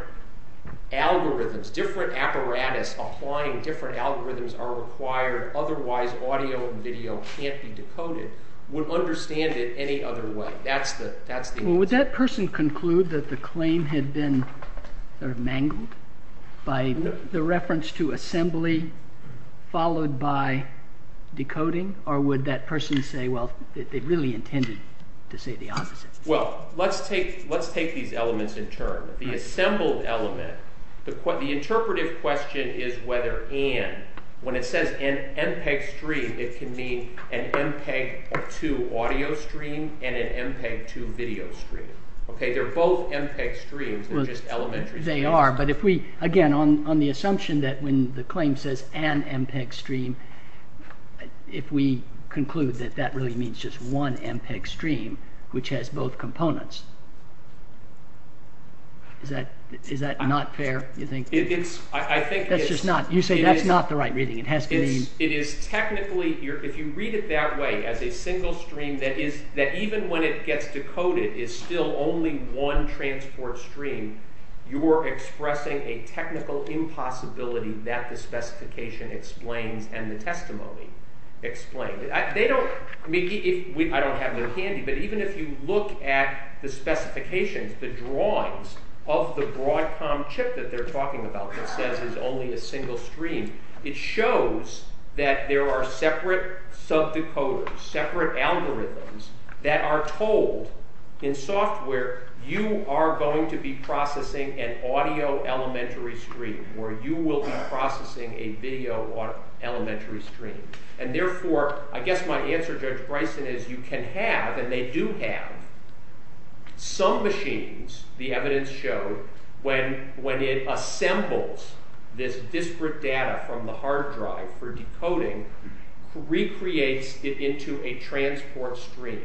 algorithms, different apparatus applying different algorithms are required otherwise audio and video can't be decoded would understand it any other way. Would that person conclude that the claim had been mangled by the reference to assembly followed by decoding, or would that person say, well, they really intended to say the opposite? Well, let's take these elements in terms. The assembled element, the interpretive question is whether and. When it says an MPEG stream, it can mean an MPEG-2 audio stream and an MPEG-2 video stream. Okay, they're both MPEG streams, they're just elementary. They are, but if we, again, on the assumption that when the claim says an MPEG stream, if we conclude that that really means just one MPEG stream which has both components, is that not fair, you think? That's just not, you say that's not the right reading. It is technically, if you read it that way, as a single stream that even when it gets decoded is still only one transport stream, you're expressing a technical impossibility that the specification explains and the testimony explains. They don't, I mean, I don't have it in handy, but even if you look at the specifications, the drawings of the Broadcom chip that they're talking about that says it's only a single stream, it shows that there are separate sub-decoders, separate algorithms that are told in software, you are going to be processing an audio elementary stream, or you will be processing a video elementary stream, and therefore, I guess my answer to Bryson is you can have, and they do have, some machines, the evidence showed, when it assembles this disparate data from the hard drive for decoding, recreates it into a transport stream,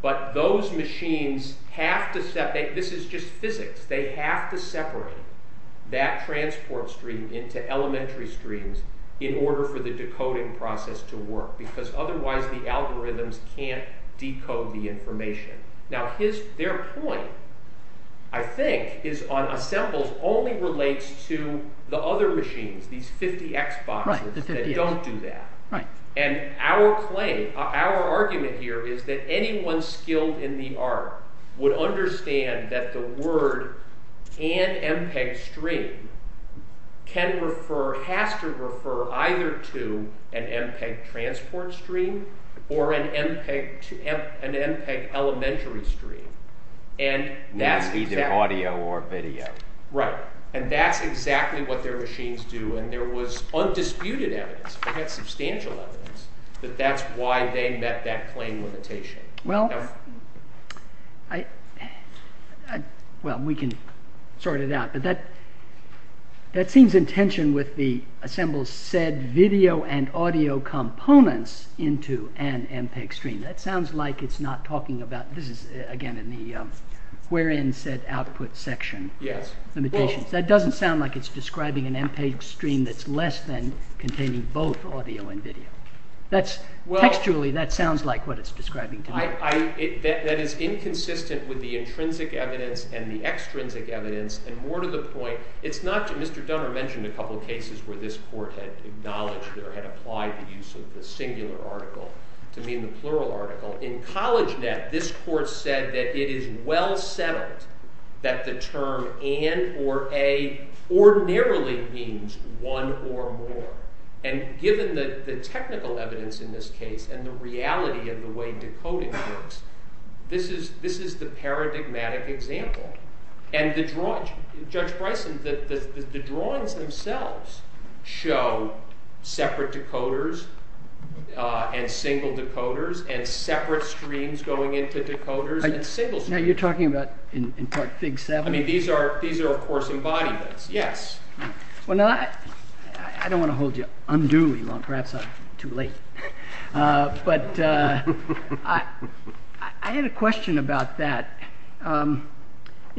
but those machines have to separate, this is just physics, they have to separate that transport stream into elementary streams in order for the decoding process to work, because otherwise the algorithms can't decode the information. Now, their point I think is on assembles only relates to the other machines, these 50x boxes that don't do that. And our claim, our argument here is that anyone skilled in the art would understand that the word can MPEG stream can refer, has to refer, either to an MPEG transport stream, or an MPEG elementary stream. Now, either audio or video. Right, and that's exactly what their machines do, and there was no disputed evidence, perhaps substantial evidence, that that's why they met that claim limitation. Well, well, we can sort it out, but that seems in tension with the assembles said video and audio components into an MPEG stream. That sounds like it's not talking about, this is again in the wherein said output section limitations. That doesn't sound like it's less than containing both audio and video. That's, textually, that sounds like what it's describing. That is inconsistent with the intrinsic evidence and the extrinsic evidence, and more to the point, it's not, Mr. Dunbar mentioned a couple cases where this court had acknowledged or had applied the use of the singular article to mean the plural article. In CollegeNet, this court said that it is well settled that the term N or A ordinarily means one or more, and given the technical evidence in this case and the reality of the way decoding works, this is the paradigmatic example. And the drawings, Judge Bryson, the drawings themselves show separate decoders and single decoders and separate streams going into decoders and single streams. Now you're talking about, in part, Fig 7? I mean, these are, of course, embodiments. Yes. Well, now, I don't want to hold you unduly long. Perhaps I'm too late. But, I had a question about that.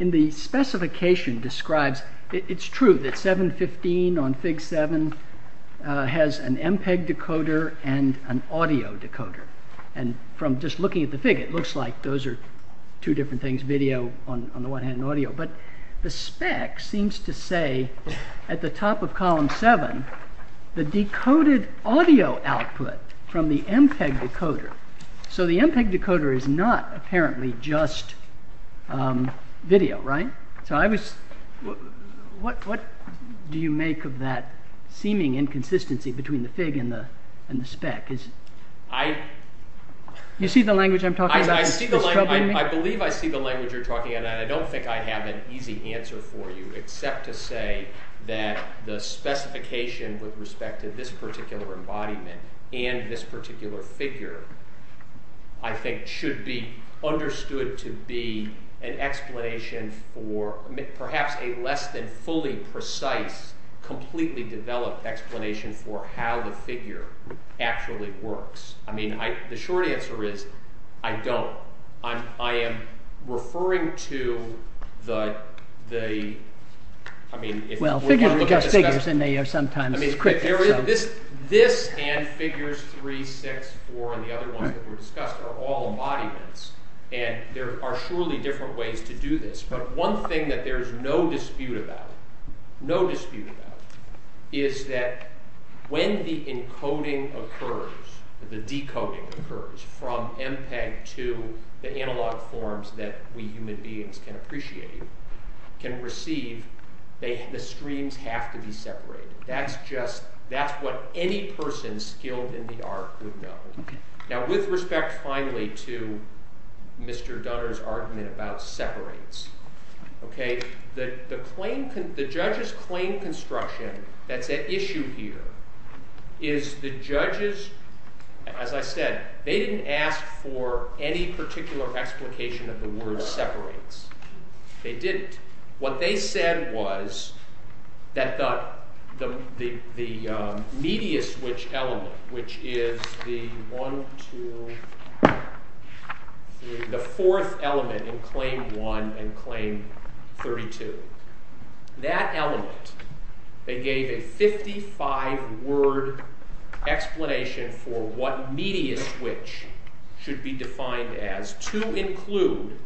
In the specification described, it's true that 715 on Fig 7 has an MPEG decoder and an audio decoder. And from just looking at the Fig, it looks like those are two different things, video on the one hand and audio. But the spec seems to say at the top of column 7 the decoded audio output from the MPEG decoder, so the MPEG decoder is not apparently just video, right? So I was, what do you make of that seeming inconsistency between the Fig and the spec? I... You see the language I'm talking about? I believe I see the language you're talking about. I don't think I have an easy answer for you except to say that the specification with respect to this particular embodiment and this particular figure, I think should be understood to be an explanation for perhaps a less than fully precise completely developed explanation for how the figure actually works. I mean, I... I am referring to the... I mean... Well, figures are just figures and they are sometimes... This and figures 3, 6, 4 and the other ones that were discussed are all embodiments and there are surely different ways to do this. But one thing that there's no dispute about, no dispute about, is that when the encoding occurs, the decoding occurs from MPEG to the analog forms that we human beings can appreciate, can receive, the streams have to be separated. That's just... That's what any person skilled in the art would know. Now, with respect, finally, to Mr. Dunner's argument about separates, okay, the claim... The judges claim construction that the issue here is the judges... They didn't ask for any particular explication of the word separates. They didn't. What they said was that the... the media switch element, which is the one, two, the fourth element in Claim 1 and Claim 32, that element, they gave a 55 word explanation for what media switch should be defined as to include...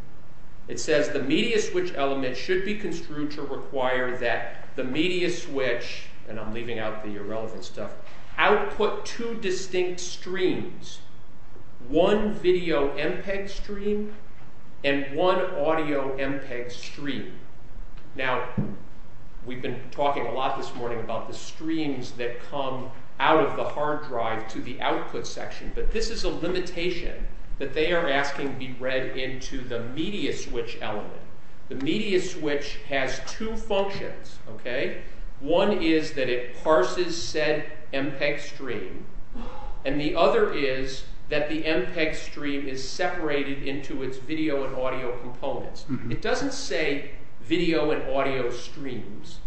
It says the media switch element should be construed to require that the media switch, and I'm leaving out the irrelevant stuff, output two distinct streams, one video MPEG stream and one audio MPEG stream. Now, we've been talking a lot this morning about the streams that come out of the hard drive to the output section, but this is a limitation that they are asking to be read into the media switch element. The media switch has two functions, okay? One is that it parses said MPEG stream, and the other is that the MPEG stream is separated into its video and audio components. It doesn't say video and audio streams,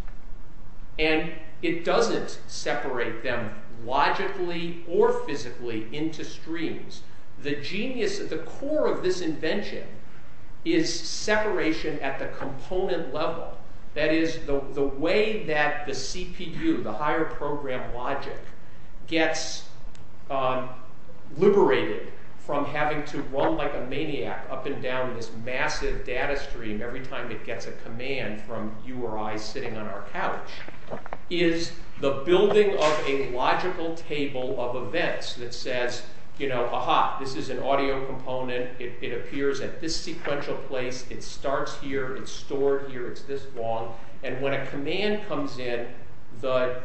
and it doesn't separate them logically or physically into streams. The genius at the core of this invention is separation at the component level. That is, the way that the CPU, the higher program logic, gets liberated from having to run like a maniac up and down this massive data stream every time it gets a load on our couch, is the building of a logical table of events that says, you know, aha, this is an audio component, it appears at this sequential place, it starts here, it's stored here, it's this long, and when a command comes in, the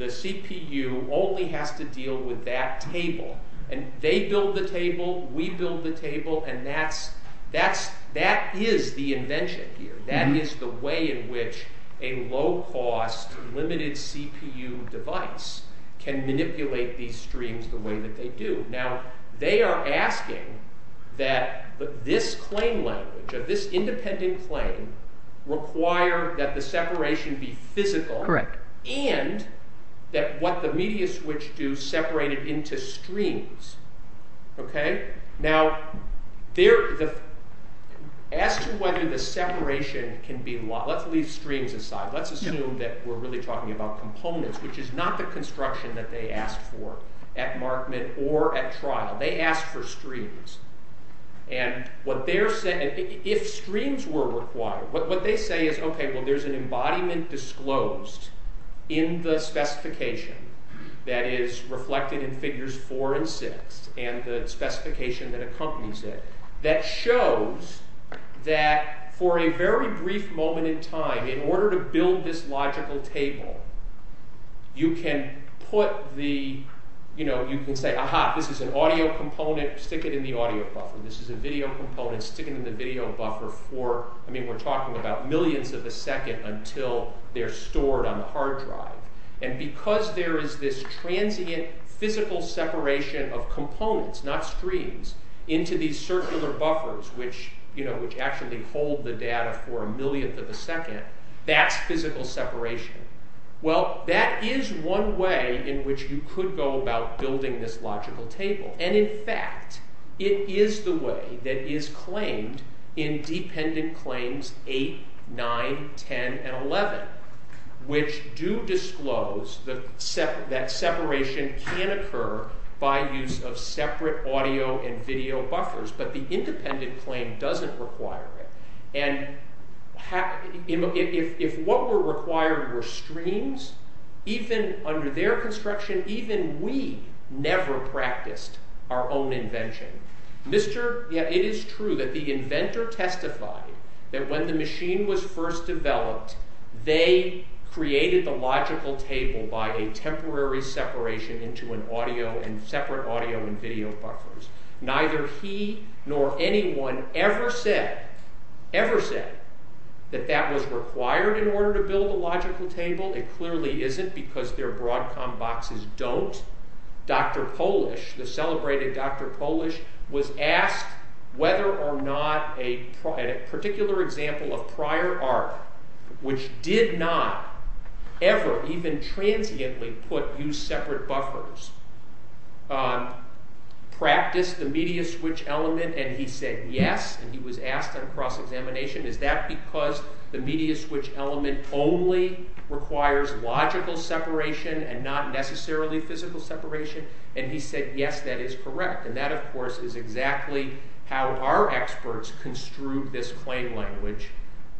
CPU only has to deal with that table, and they build the table, we build the table, and that is the invention here. That is the way in which a low-cost, limited CPU device can manipulate these streams the way that they do. Now, they are asking that this claim language, or this independent claim, require that the separation be physical, and that what the media switch do, separate it into streams. Okay? Now, as to whether the separation can be, let's leave streams aside, let's assume that we're really talking about components, which is not the construction that they ask for at mark-mit or at trial. They ask for streams, and what they're saying, if streams were required, what they say is, okay, well, there's an embodiment disclosed in the specification that is reflected in figures four and six, and the that shows that for a very brief moment in time, in order to build this logical table, you can put the, you know, you can say, aha, this is an audio component, stick it in the audio buffer. This is a video component, stick it in the video buffer for, I mean, we're talking about millions of a second until they're stored on the hard drive. And because there is this transient physical separation of into these circular buffers, which actually hold the data for a millionth of a second, that's physical separation. Well, that is one way in which you could go about building this logical table, and in fact, it is the way that is claimed in dependent claims eight, nine, ten, and eleven, which do disclose that separation can occur by use of separate audio and video buffers, but the independent claim doesn't require it. And if what were required were streams, even under their construction, even we never practiced our own invention. It is true that the inventor testified that when the machine was first developed, they created the logical table by a temporary separation into an audio and separate audio and video buffers. Neither he nor anyone ever said, ever said that that was required in order to build a logical table, and clearly isn't because their Broadcom boxes don't. Dr. Polish, the celebrated Dr. Polish, was asked whether or not a particular example of prior art which did not ever even transiently put new separate buffers practiced the media switch element, and he said yes, and he was asked at a cross-examination, is that because the media switch element only requires logical separation and not necessarily physical separation? And he said yes, that is correct, and that of course is exactly how our experts construed this plain language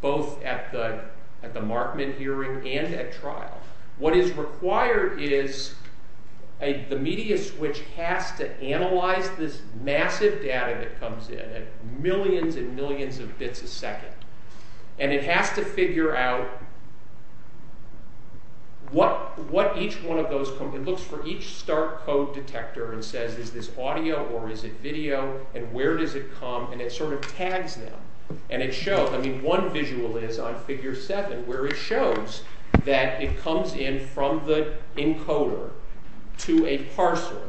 both at the Markman hearing and at the Broadcom hearing. The idea is the media switch has to analyze this massive data that comes in at millions and millions of bits a second, and it has to figure out what each one of those looks for each start code detector and says is this audio or is it video, and where does it come, and it sort of tags them, and it shows, I mean one visual is on figure 7 where it shows that it comes in from the encoder to a parser,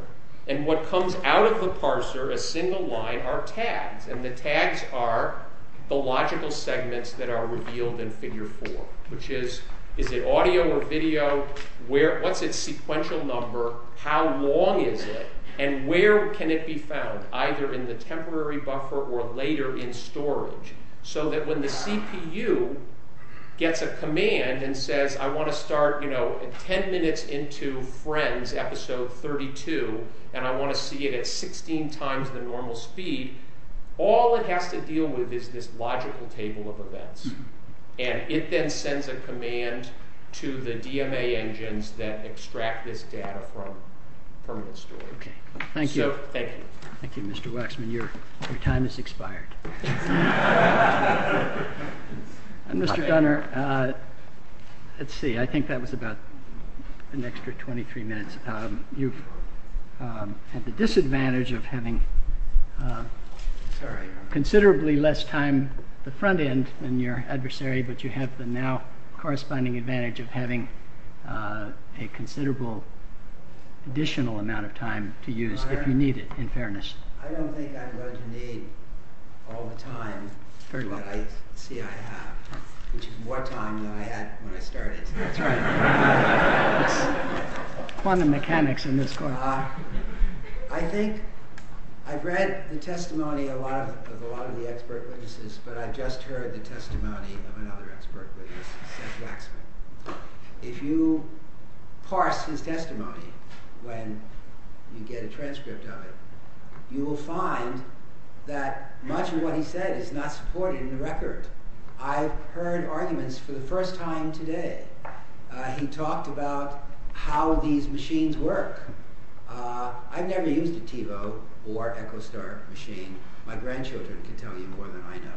and what comes out of the parser, a single line, are tags, and the tags are the logical segments that are revealed in figure 4, which is, is it audio or video, what's its sequential number, how long is it, and where can it be found, either in the temporary buffer or later in storage, so that when the CPU gets a command and says I want to start, you know, 10 minutes into Friends episode 32, and I want to see it at 16 times the normal speed, all it has to deal with is this logical table of events, and it then sends a command to the DMA engines that extract this data from the storage. Thank you. Thank you, Mr. Waxman, your time has expired. Mr. Gunner, let's see, I think that was about an extra 23 minutes. You've had the disadvantage of having considerably less time at the front end than your adversary, but you have the now corresponding advantage of having a considerable additional amount of time to use if you need it, in contrast to me, all the time that I see I have, which is more time than I had when I started. Quantum mechanics in this course. I think I've read the testimony of a lot of the expert witnesses, but I've just heard the testimony of another expert witness, Mr. Waxman. If you parse his testimony when you get a transcript of it, you will find that much of what he said is not supported in the record. I've heard arguments for the first time today. He talked about how these machines work. I've never used a Thilo or EchoStar machine. My grandchildren can tell you more than I know.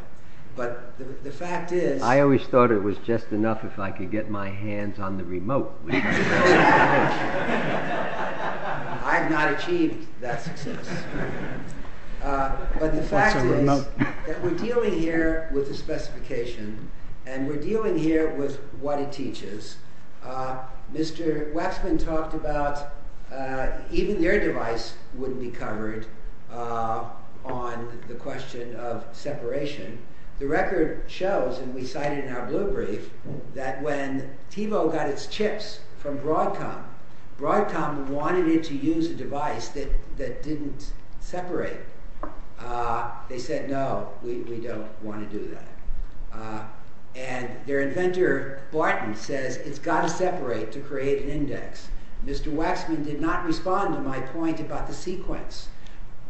But the fact is... I always thought it was just enough if I could get my hands on the remote. So... I've not achieved that success. But the fact is that we're dealing here with a specification, and we're dealing here with what it teaches. Mr. Waxman talked about even your device wouldn't be covered on the question of separation. The record shows, and we cite it in our blueprint, that when Thilo got its chips from Broadcom, Broadcom wanted it to use a device that didn't separate. They said, no, we don't want to do that. And their inventor, Barton, says it's got to separate to create an index. Mr. Waxman did not respond to my point about the sequence.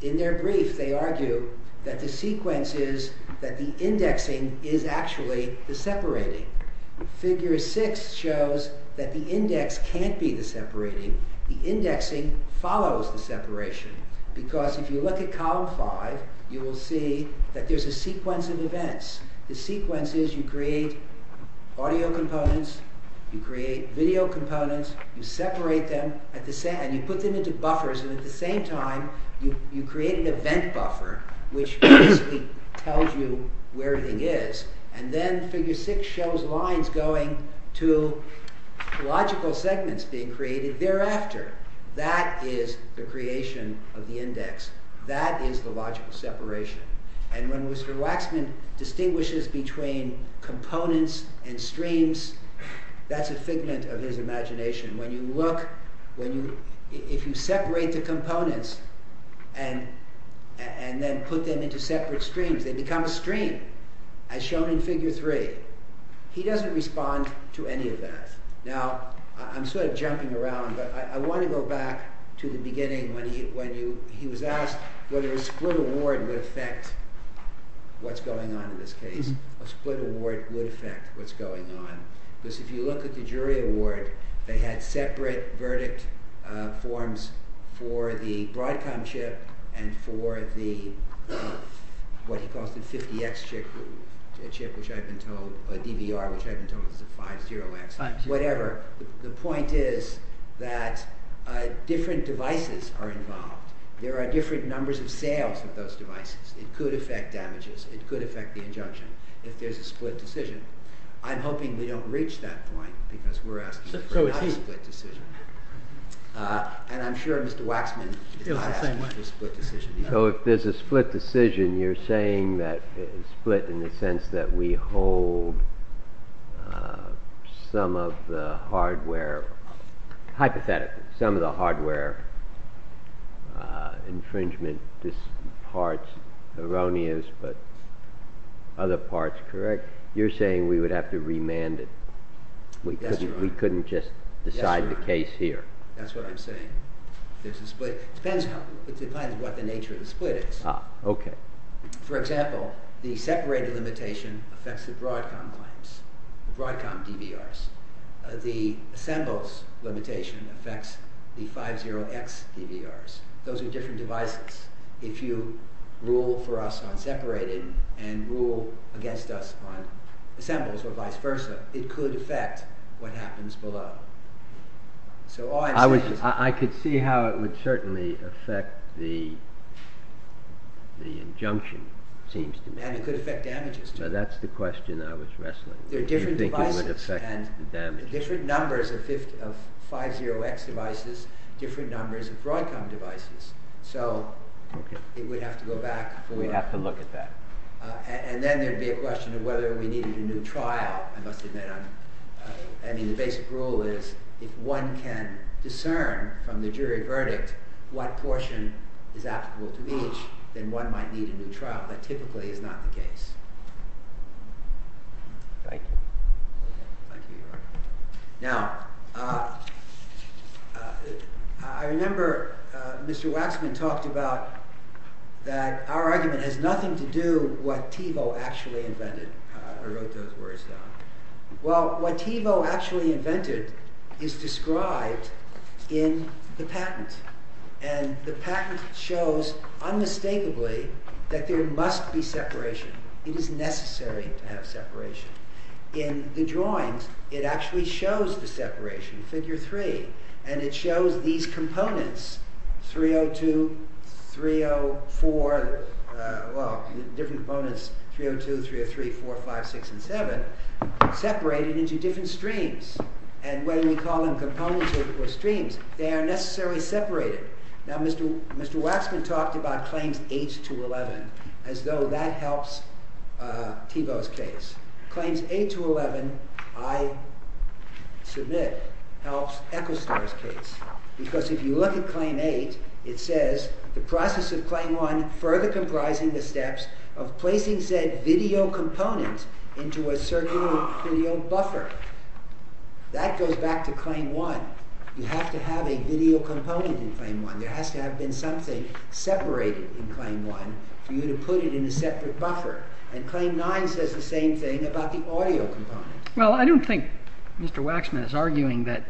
In their brief, they argue that the sequence is that the indexing is actually the separating. Figure 6 shows that the index can't be the separating. The indexing follows the separation. Because if you look at column 5, you will see that there's a sequence of events. The sequence is you create audio components, you create video components, you separate them, and you put them into buffers. And at the same time, you create an event buffer, which tells you where it is. And then figure 6 shows lines going to logical segments being created thereafter. That is the creation of the index. That is the logical separation. And when Mr. Waxman distinguishes between components and streams, that's a figment of his imagination. When you look, if you separate the components and then put them into separate streams, they become a stream, as shown in figure 3. He doesn't respond to any of that. Now, I'm sort of jumping around, but I want to go back to the beginning when he was asked whether a split award would affect what's going on in this case. A split award would affect what's going on. Because if you look at the jury award, they had separate verdict forms for the Broadcom chip and for the what he calls the 50X chip, which I've been told, or DVR, which I've been told is the 50X, whatever. The point is that different devices are involved. There are different numbers of sales with those devices. It could affect damages. It could affect the injunction if there's a split decision. I'm hoping we don't reach that point, because we're asking for a conflict decision. And I'm sure Mr. Waxman would feel the same way. So if there's a split decision, you're saying that split in the sense that we hold some of the hardware hypothetically, some of the hardware infringement parts erroneous, but other parts correct. You're saying we would have to remand it. We couldn't just decide the case here. That's what I'm saying. It depends on what the nature of the split is. For example, the separated limitation affects the Broadcom DVRs. The assembles limitation affects the 50X DVRs. Those are different devices. If you rule for us on separated and rule against us on assembles or vice versa, it could affect what happens below. I could see how it would certainly affect the injunction. And it could affect damages too. That's the question I was wrestling with. Do you think it would affect the damages? Different numbers of 50X devices, different numbers of Broadcom devices. So we'd have to go back. We'd have to look at that. And then there'd be a question of whether we needed a new trial. The basic rule is if one can discern from the jury verdict what portion is applicable to each, then one might need a new trial. That typically is not the case. I remember Mr. Waxman talked about that our argument has nothing to do with what those words got. What Thiebaud actually invented is described in the patent. The patent shows unmistakably that there must be separation. It is necessary to have separation. In the drawings, it actually shows the separation, figure 3. And it shows these components 302, 304, well, different components, 302, 303, 405, 607, separated into different streams. And when we call them components or streams, they are necessarily separated. Now, Mr. Waxman talked about Claims 8 to 11 as though that helps Thiebaud's case. Claims 8 to 11, I submit, helps Ephesus' case. Because if you look at Claim 8, it says the process of Claim 1 further comprises the steps of placing said video component into a certain audio buffer. That goes back to Claim 1. You have to have a video component in Claim 1. There has to have been something separated in Claim 1 for you to put it in a separate buffer. And Claim 9 says the same thing about the audio component. Well, I don't think Mr. Waxman is arguing that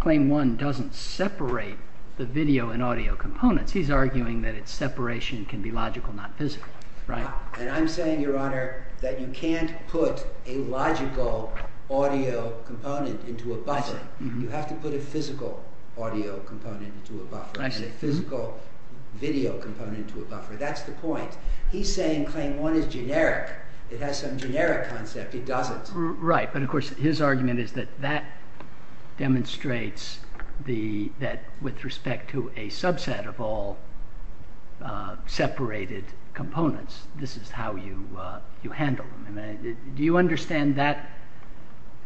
Claim 1 doesn't separate the video and audio components. He's arguing that its separation can be logical, not physical. And I'm saying, Your Honor, that you can't put a logical audio component into a buffer. You have to put a physical audio component into a buffer. You have to put a physical video component into a buffer. That's the point. He's saying Claim 1 is generic. It has some generic concept. It doesn't. Right. But of course, his argument is that that demonstrates that with respect to a subset of all separated components, this is how you handle them. Do you understand that?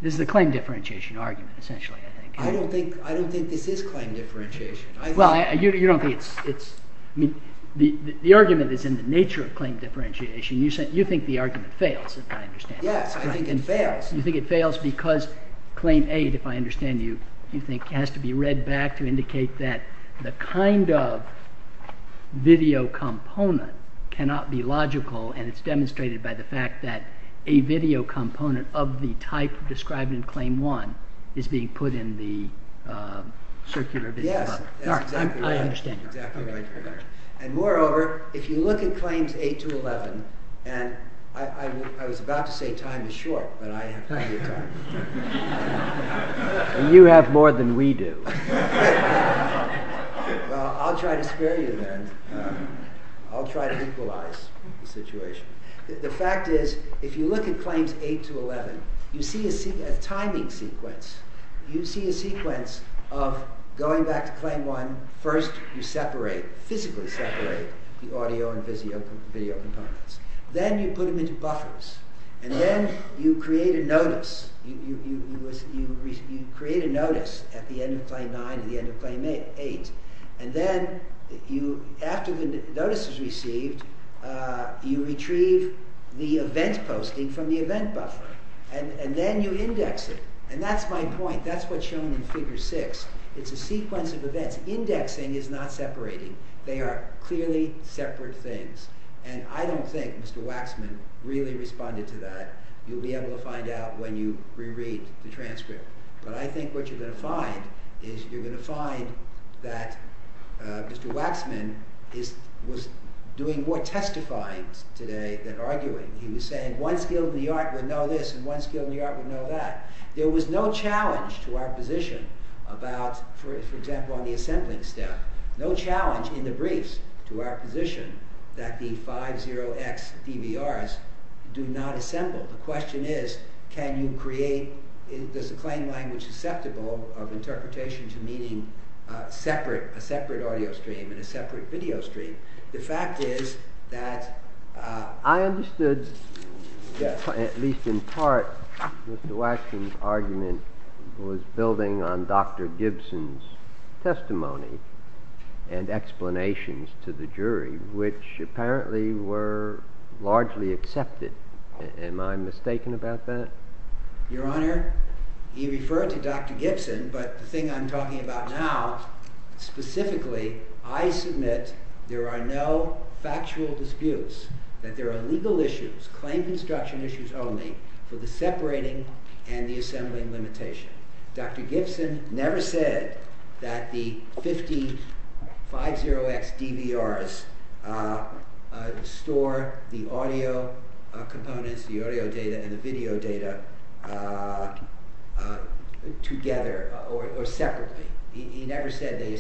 This is a claim differentiation argument, essentially, I think. I don't think this is claim differentiation. The argument is in the nature of claim differentiation. You think the argument fails, as I understand it. Yes, I think it fails. You think it fails because Claim 8, if I understand you, you think it has to be read back to indicate that the kind of video component cannot be logical, and it's demonstrated by the fact that a video component of the type described in Claim 1 is being put in the circular video buffer. Yes. I understand. And moreover, if you look at Claims 8 to 11, and I was about to say time is short, but I entirely forgot. And you have more than we do. I'll try to scare you then. I'll try to equalize the situation. The fact is, if you look at Claims 8 to 11, you see a timing sequence. You see a sequence of going back to Claim 1, first you separate, physically separate the audio and video components. Then you put them into buffers, and then you create a notice. You create a notice at the end of Claim 9 and the end of Claim 8. And then after the notice is received, you retrieve the event posting from the event buffer. And then you index it. And that's my point. That's what's shown in Figure 6. It's a sequence of events. Indexing is not separating. They are clearly separate things. And I don't think Mr. Waxman really responded to that. You'll be able to find out when you re-read the transcript. But I think what you're going to find is you're going to find that Mr. Waxman was doing more testifying today than arguing. He was saying one skill in the art would know this, and one skill in the art would know that. There was no challenge to our position about for example on the assentment step. No challenge in the briefs to our position that the 50X DVRs do not assent them. The question is can you create is the plain language susceptible of interpretations meaning a separate audio stream and a separate video stream? The fact is that I understood at least in part Mr. Waxman's argument was building on Dr. Gibson's testimony and explanations to the jury, which apparently were largely accepted. Am I mistaken about that? Your Honor, you referred to Dr. Gibson but the thing I'm talking about now specifically I assume that there are no factual disputes, that there are legal issues, claim construction issues only, for the separating and the assembling limitation. Dr. Gibson never said that the 50X DVRs store the audio components, the audio data and the video data together or separately. He never said they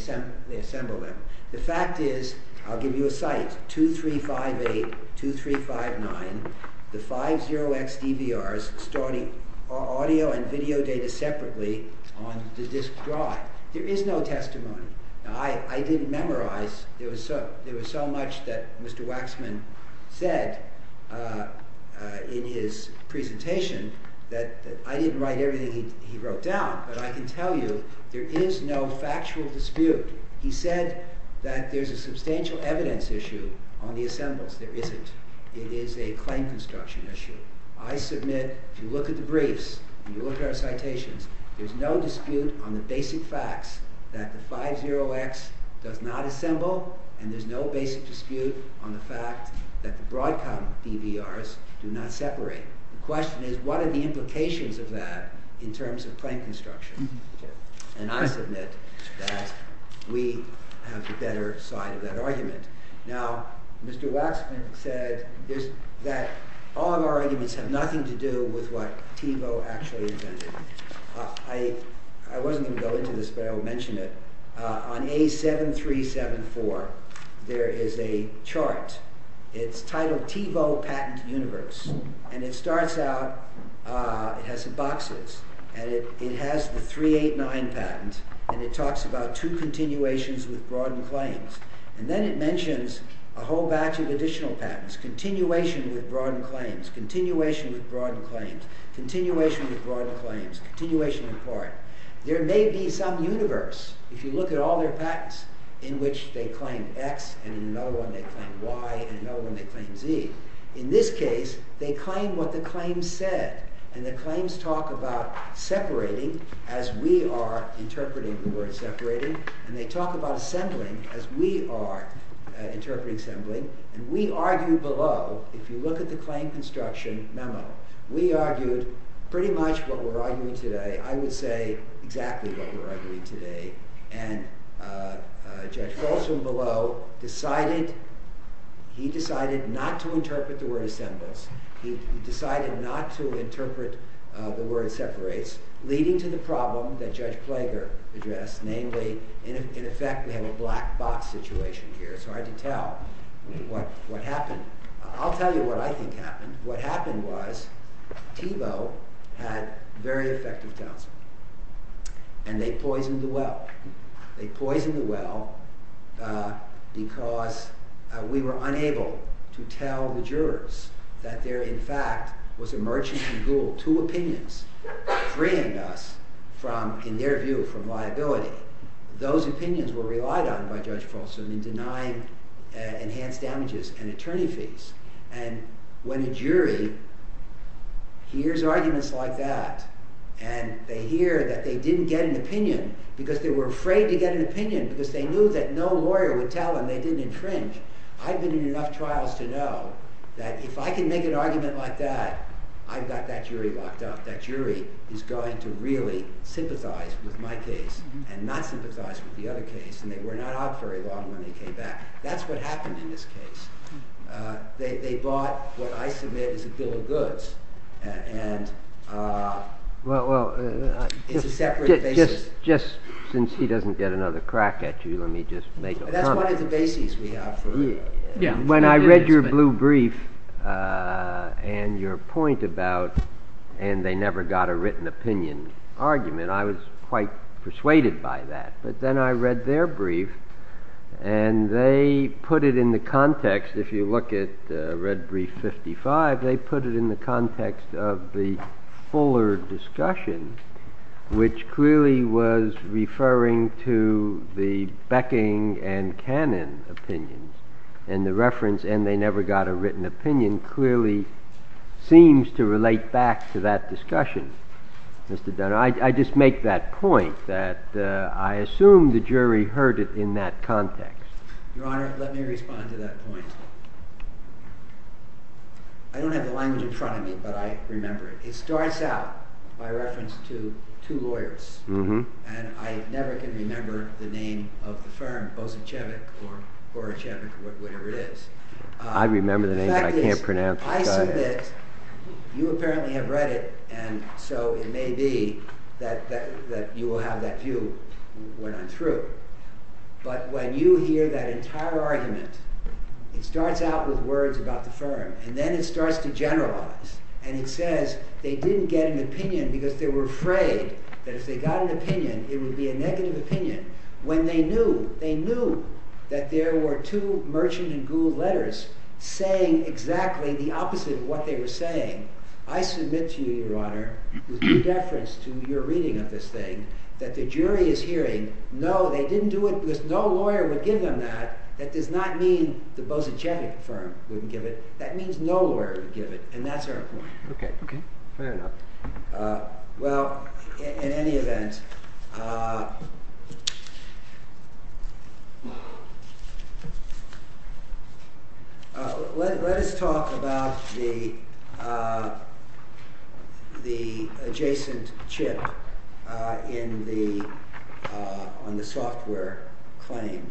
assemble them. The fact is, I'll give you a cite, 2358 2359, the 50X DVRs storing audio and video data separately on the disk drive. There is no testimony. I didn't memorize. There was so much that Mr. Waxman said in his presentation that I didn't write everything he wrote down, but I can tell you there is no factual dispute. He said that there's a substantial evidence issue on the assembles. There isn't. It is a claim construction issue. I submit, if you look at the briefs and you look at our citations, there's no dispute on the basic facts that the 50X does not assemble, and there's no basic dispute on the fact that the Broadcom DVRs do not separate. The question is, what are the implications of that in terms of claim construction? And I submit that we have the better side of that argument. Now, Mr. Waxman said that all of our arguments have nothing to do with what I wasn't going to go into this, but I will mention it. On A7374, there is a chart. It's titled PIVO Patent Universe, and it starts out it has some boxes and it has the 389 patents, and it talks about two continuations with broad claims, and then it mentions a whole batch of additional patents. Continuation with broad claims. Continuation with broad claims. Continuation with broad claims. Continuation with broad claims. There may be some universe, if you look at all their patents, in which they claim X, and in no one they claim Y, and in no one they claim Z. In this case, they claim what the claim said, and the claims talk about separating as we are interpreting the word separating, and they talk about assembling as we are interpreting assembling, and we argue below, if you look at the claim construction memo, we argue pretty much what we're arguing today. I would say exactly what we're arguing today, and Judge Folsom below decided he decided not to interpret the word assembles. He decided not to interpret the word separates, leading to the problem that Judge Flager addressed, namely, in effect, we have a black box situation here, so I can tell what happened. I'll tell you what I think happened. What happened was, PIVO had very effective counseling, and they poisoned the well. They poisoned the well because we were unable to tell the jurors that there, in fact, was emergency rule, two opinions freeing us from, in their view, from liability. Those opinions were relied on by Judge Folsom in denying enhanced damages and attorney fees. When the jury hears arguments like that, and they hear that they didn't get an opinion because they were afraid to get an opinion because they knew that no lawyer would tell them they didn't infringe, I've been in enough trials to know that if I can make an argument like that, I've got that jury locked up. That jury is going to really sympathize with my case and not sympathize with the other case, and they were not happy in this case. They bought what I submit as a bill of goods. Well, just since he doesn't get another crack at you, let me just make a comment. That's one of the bases we have. When I read your blue brief and your point about, and they never got a written opinion argument, I was quite persuaded by that. But then I read their brief and they put it in the context, if you look at red brief 55, they put it in the context of the fuller discussion which clearly was referring to the Becking and Cannon opinions, and the reference, and they never got a written opinion, clearly seems to relate back to that discussion. I just make that point, that I assume the jury heard it in that context. Your Honor, let me respond to that point. I don't have a line in front of me, but I remember it. It starts out by reference to two lawyers, and I never can remember the name of the firm, or whichever it is. I remember the name, but I can't pronounce it. You apparently have read it, and so it may be that you will have that view when I'm through. But when you hear that entire argument, it starts out with words about the firm, and then it starts to generalize, and it says they didn't get an opinion because they were afraid that if they got an opinion it would be a negative opinion. When they knew, they knew that there were two Merchant and Gould letters saying exactly the opposite of what they were saying. I submit to you, Your Honor, with reference to your reading of this thing, that the jury is hearing no, they didn't do it, no lawyer would give them that. That does not mean the Bosacek firm wouldn't give it. That means no lawyer would give it, and that's our point. Fair enough. Well, in any event, let us talk about the adjacent chip on the software claim.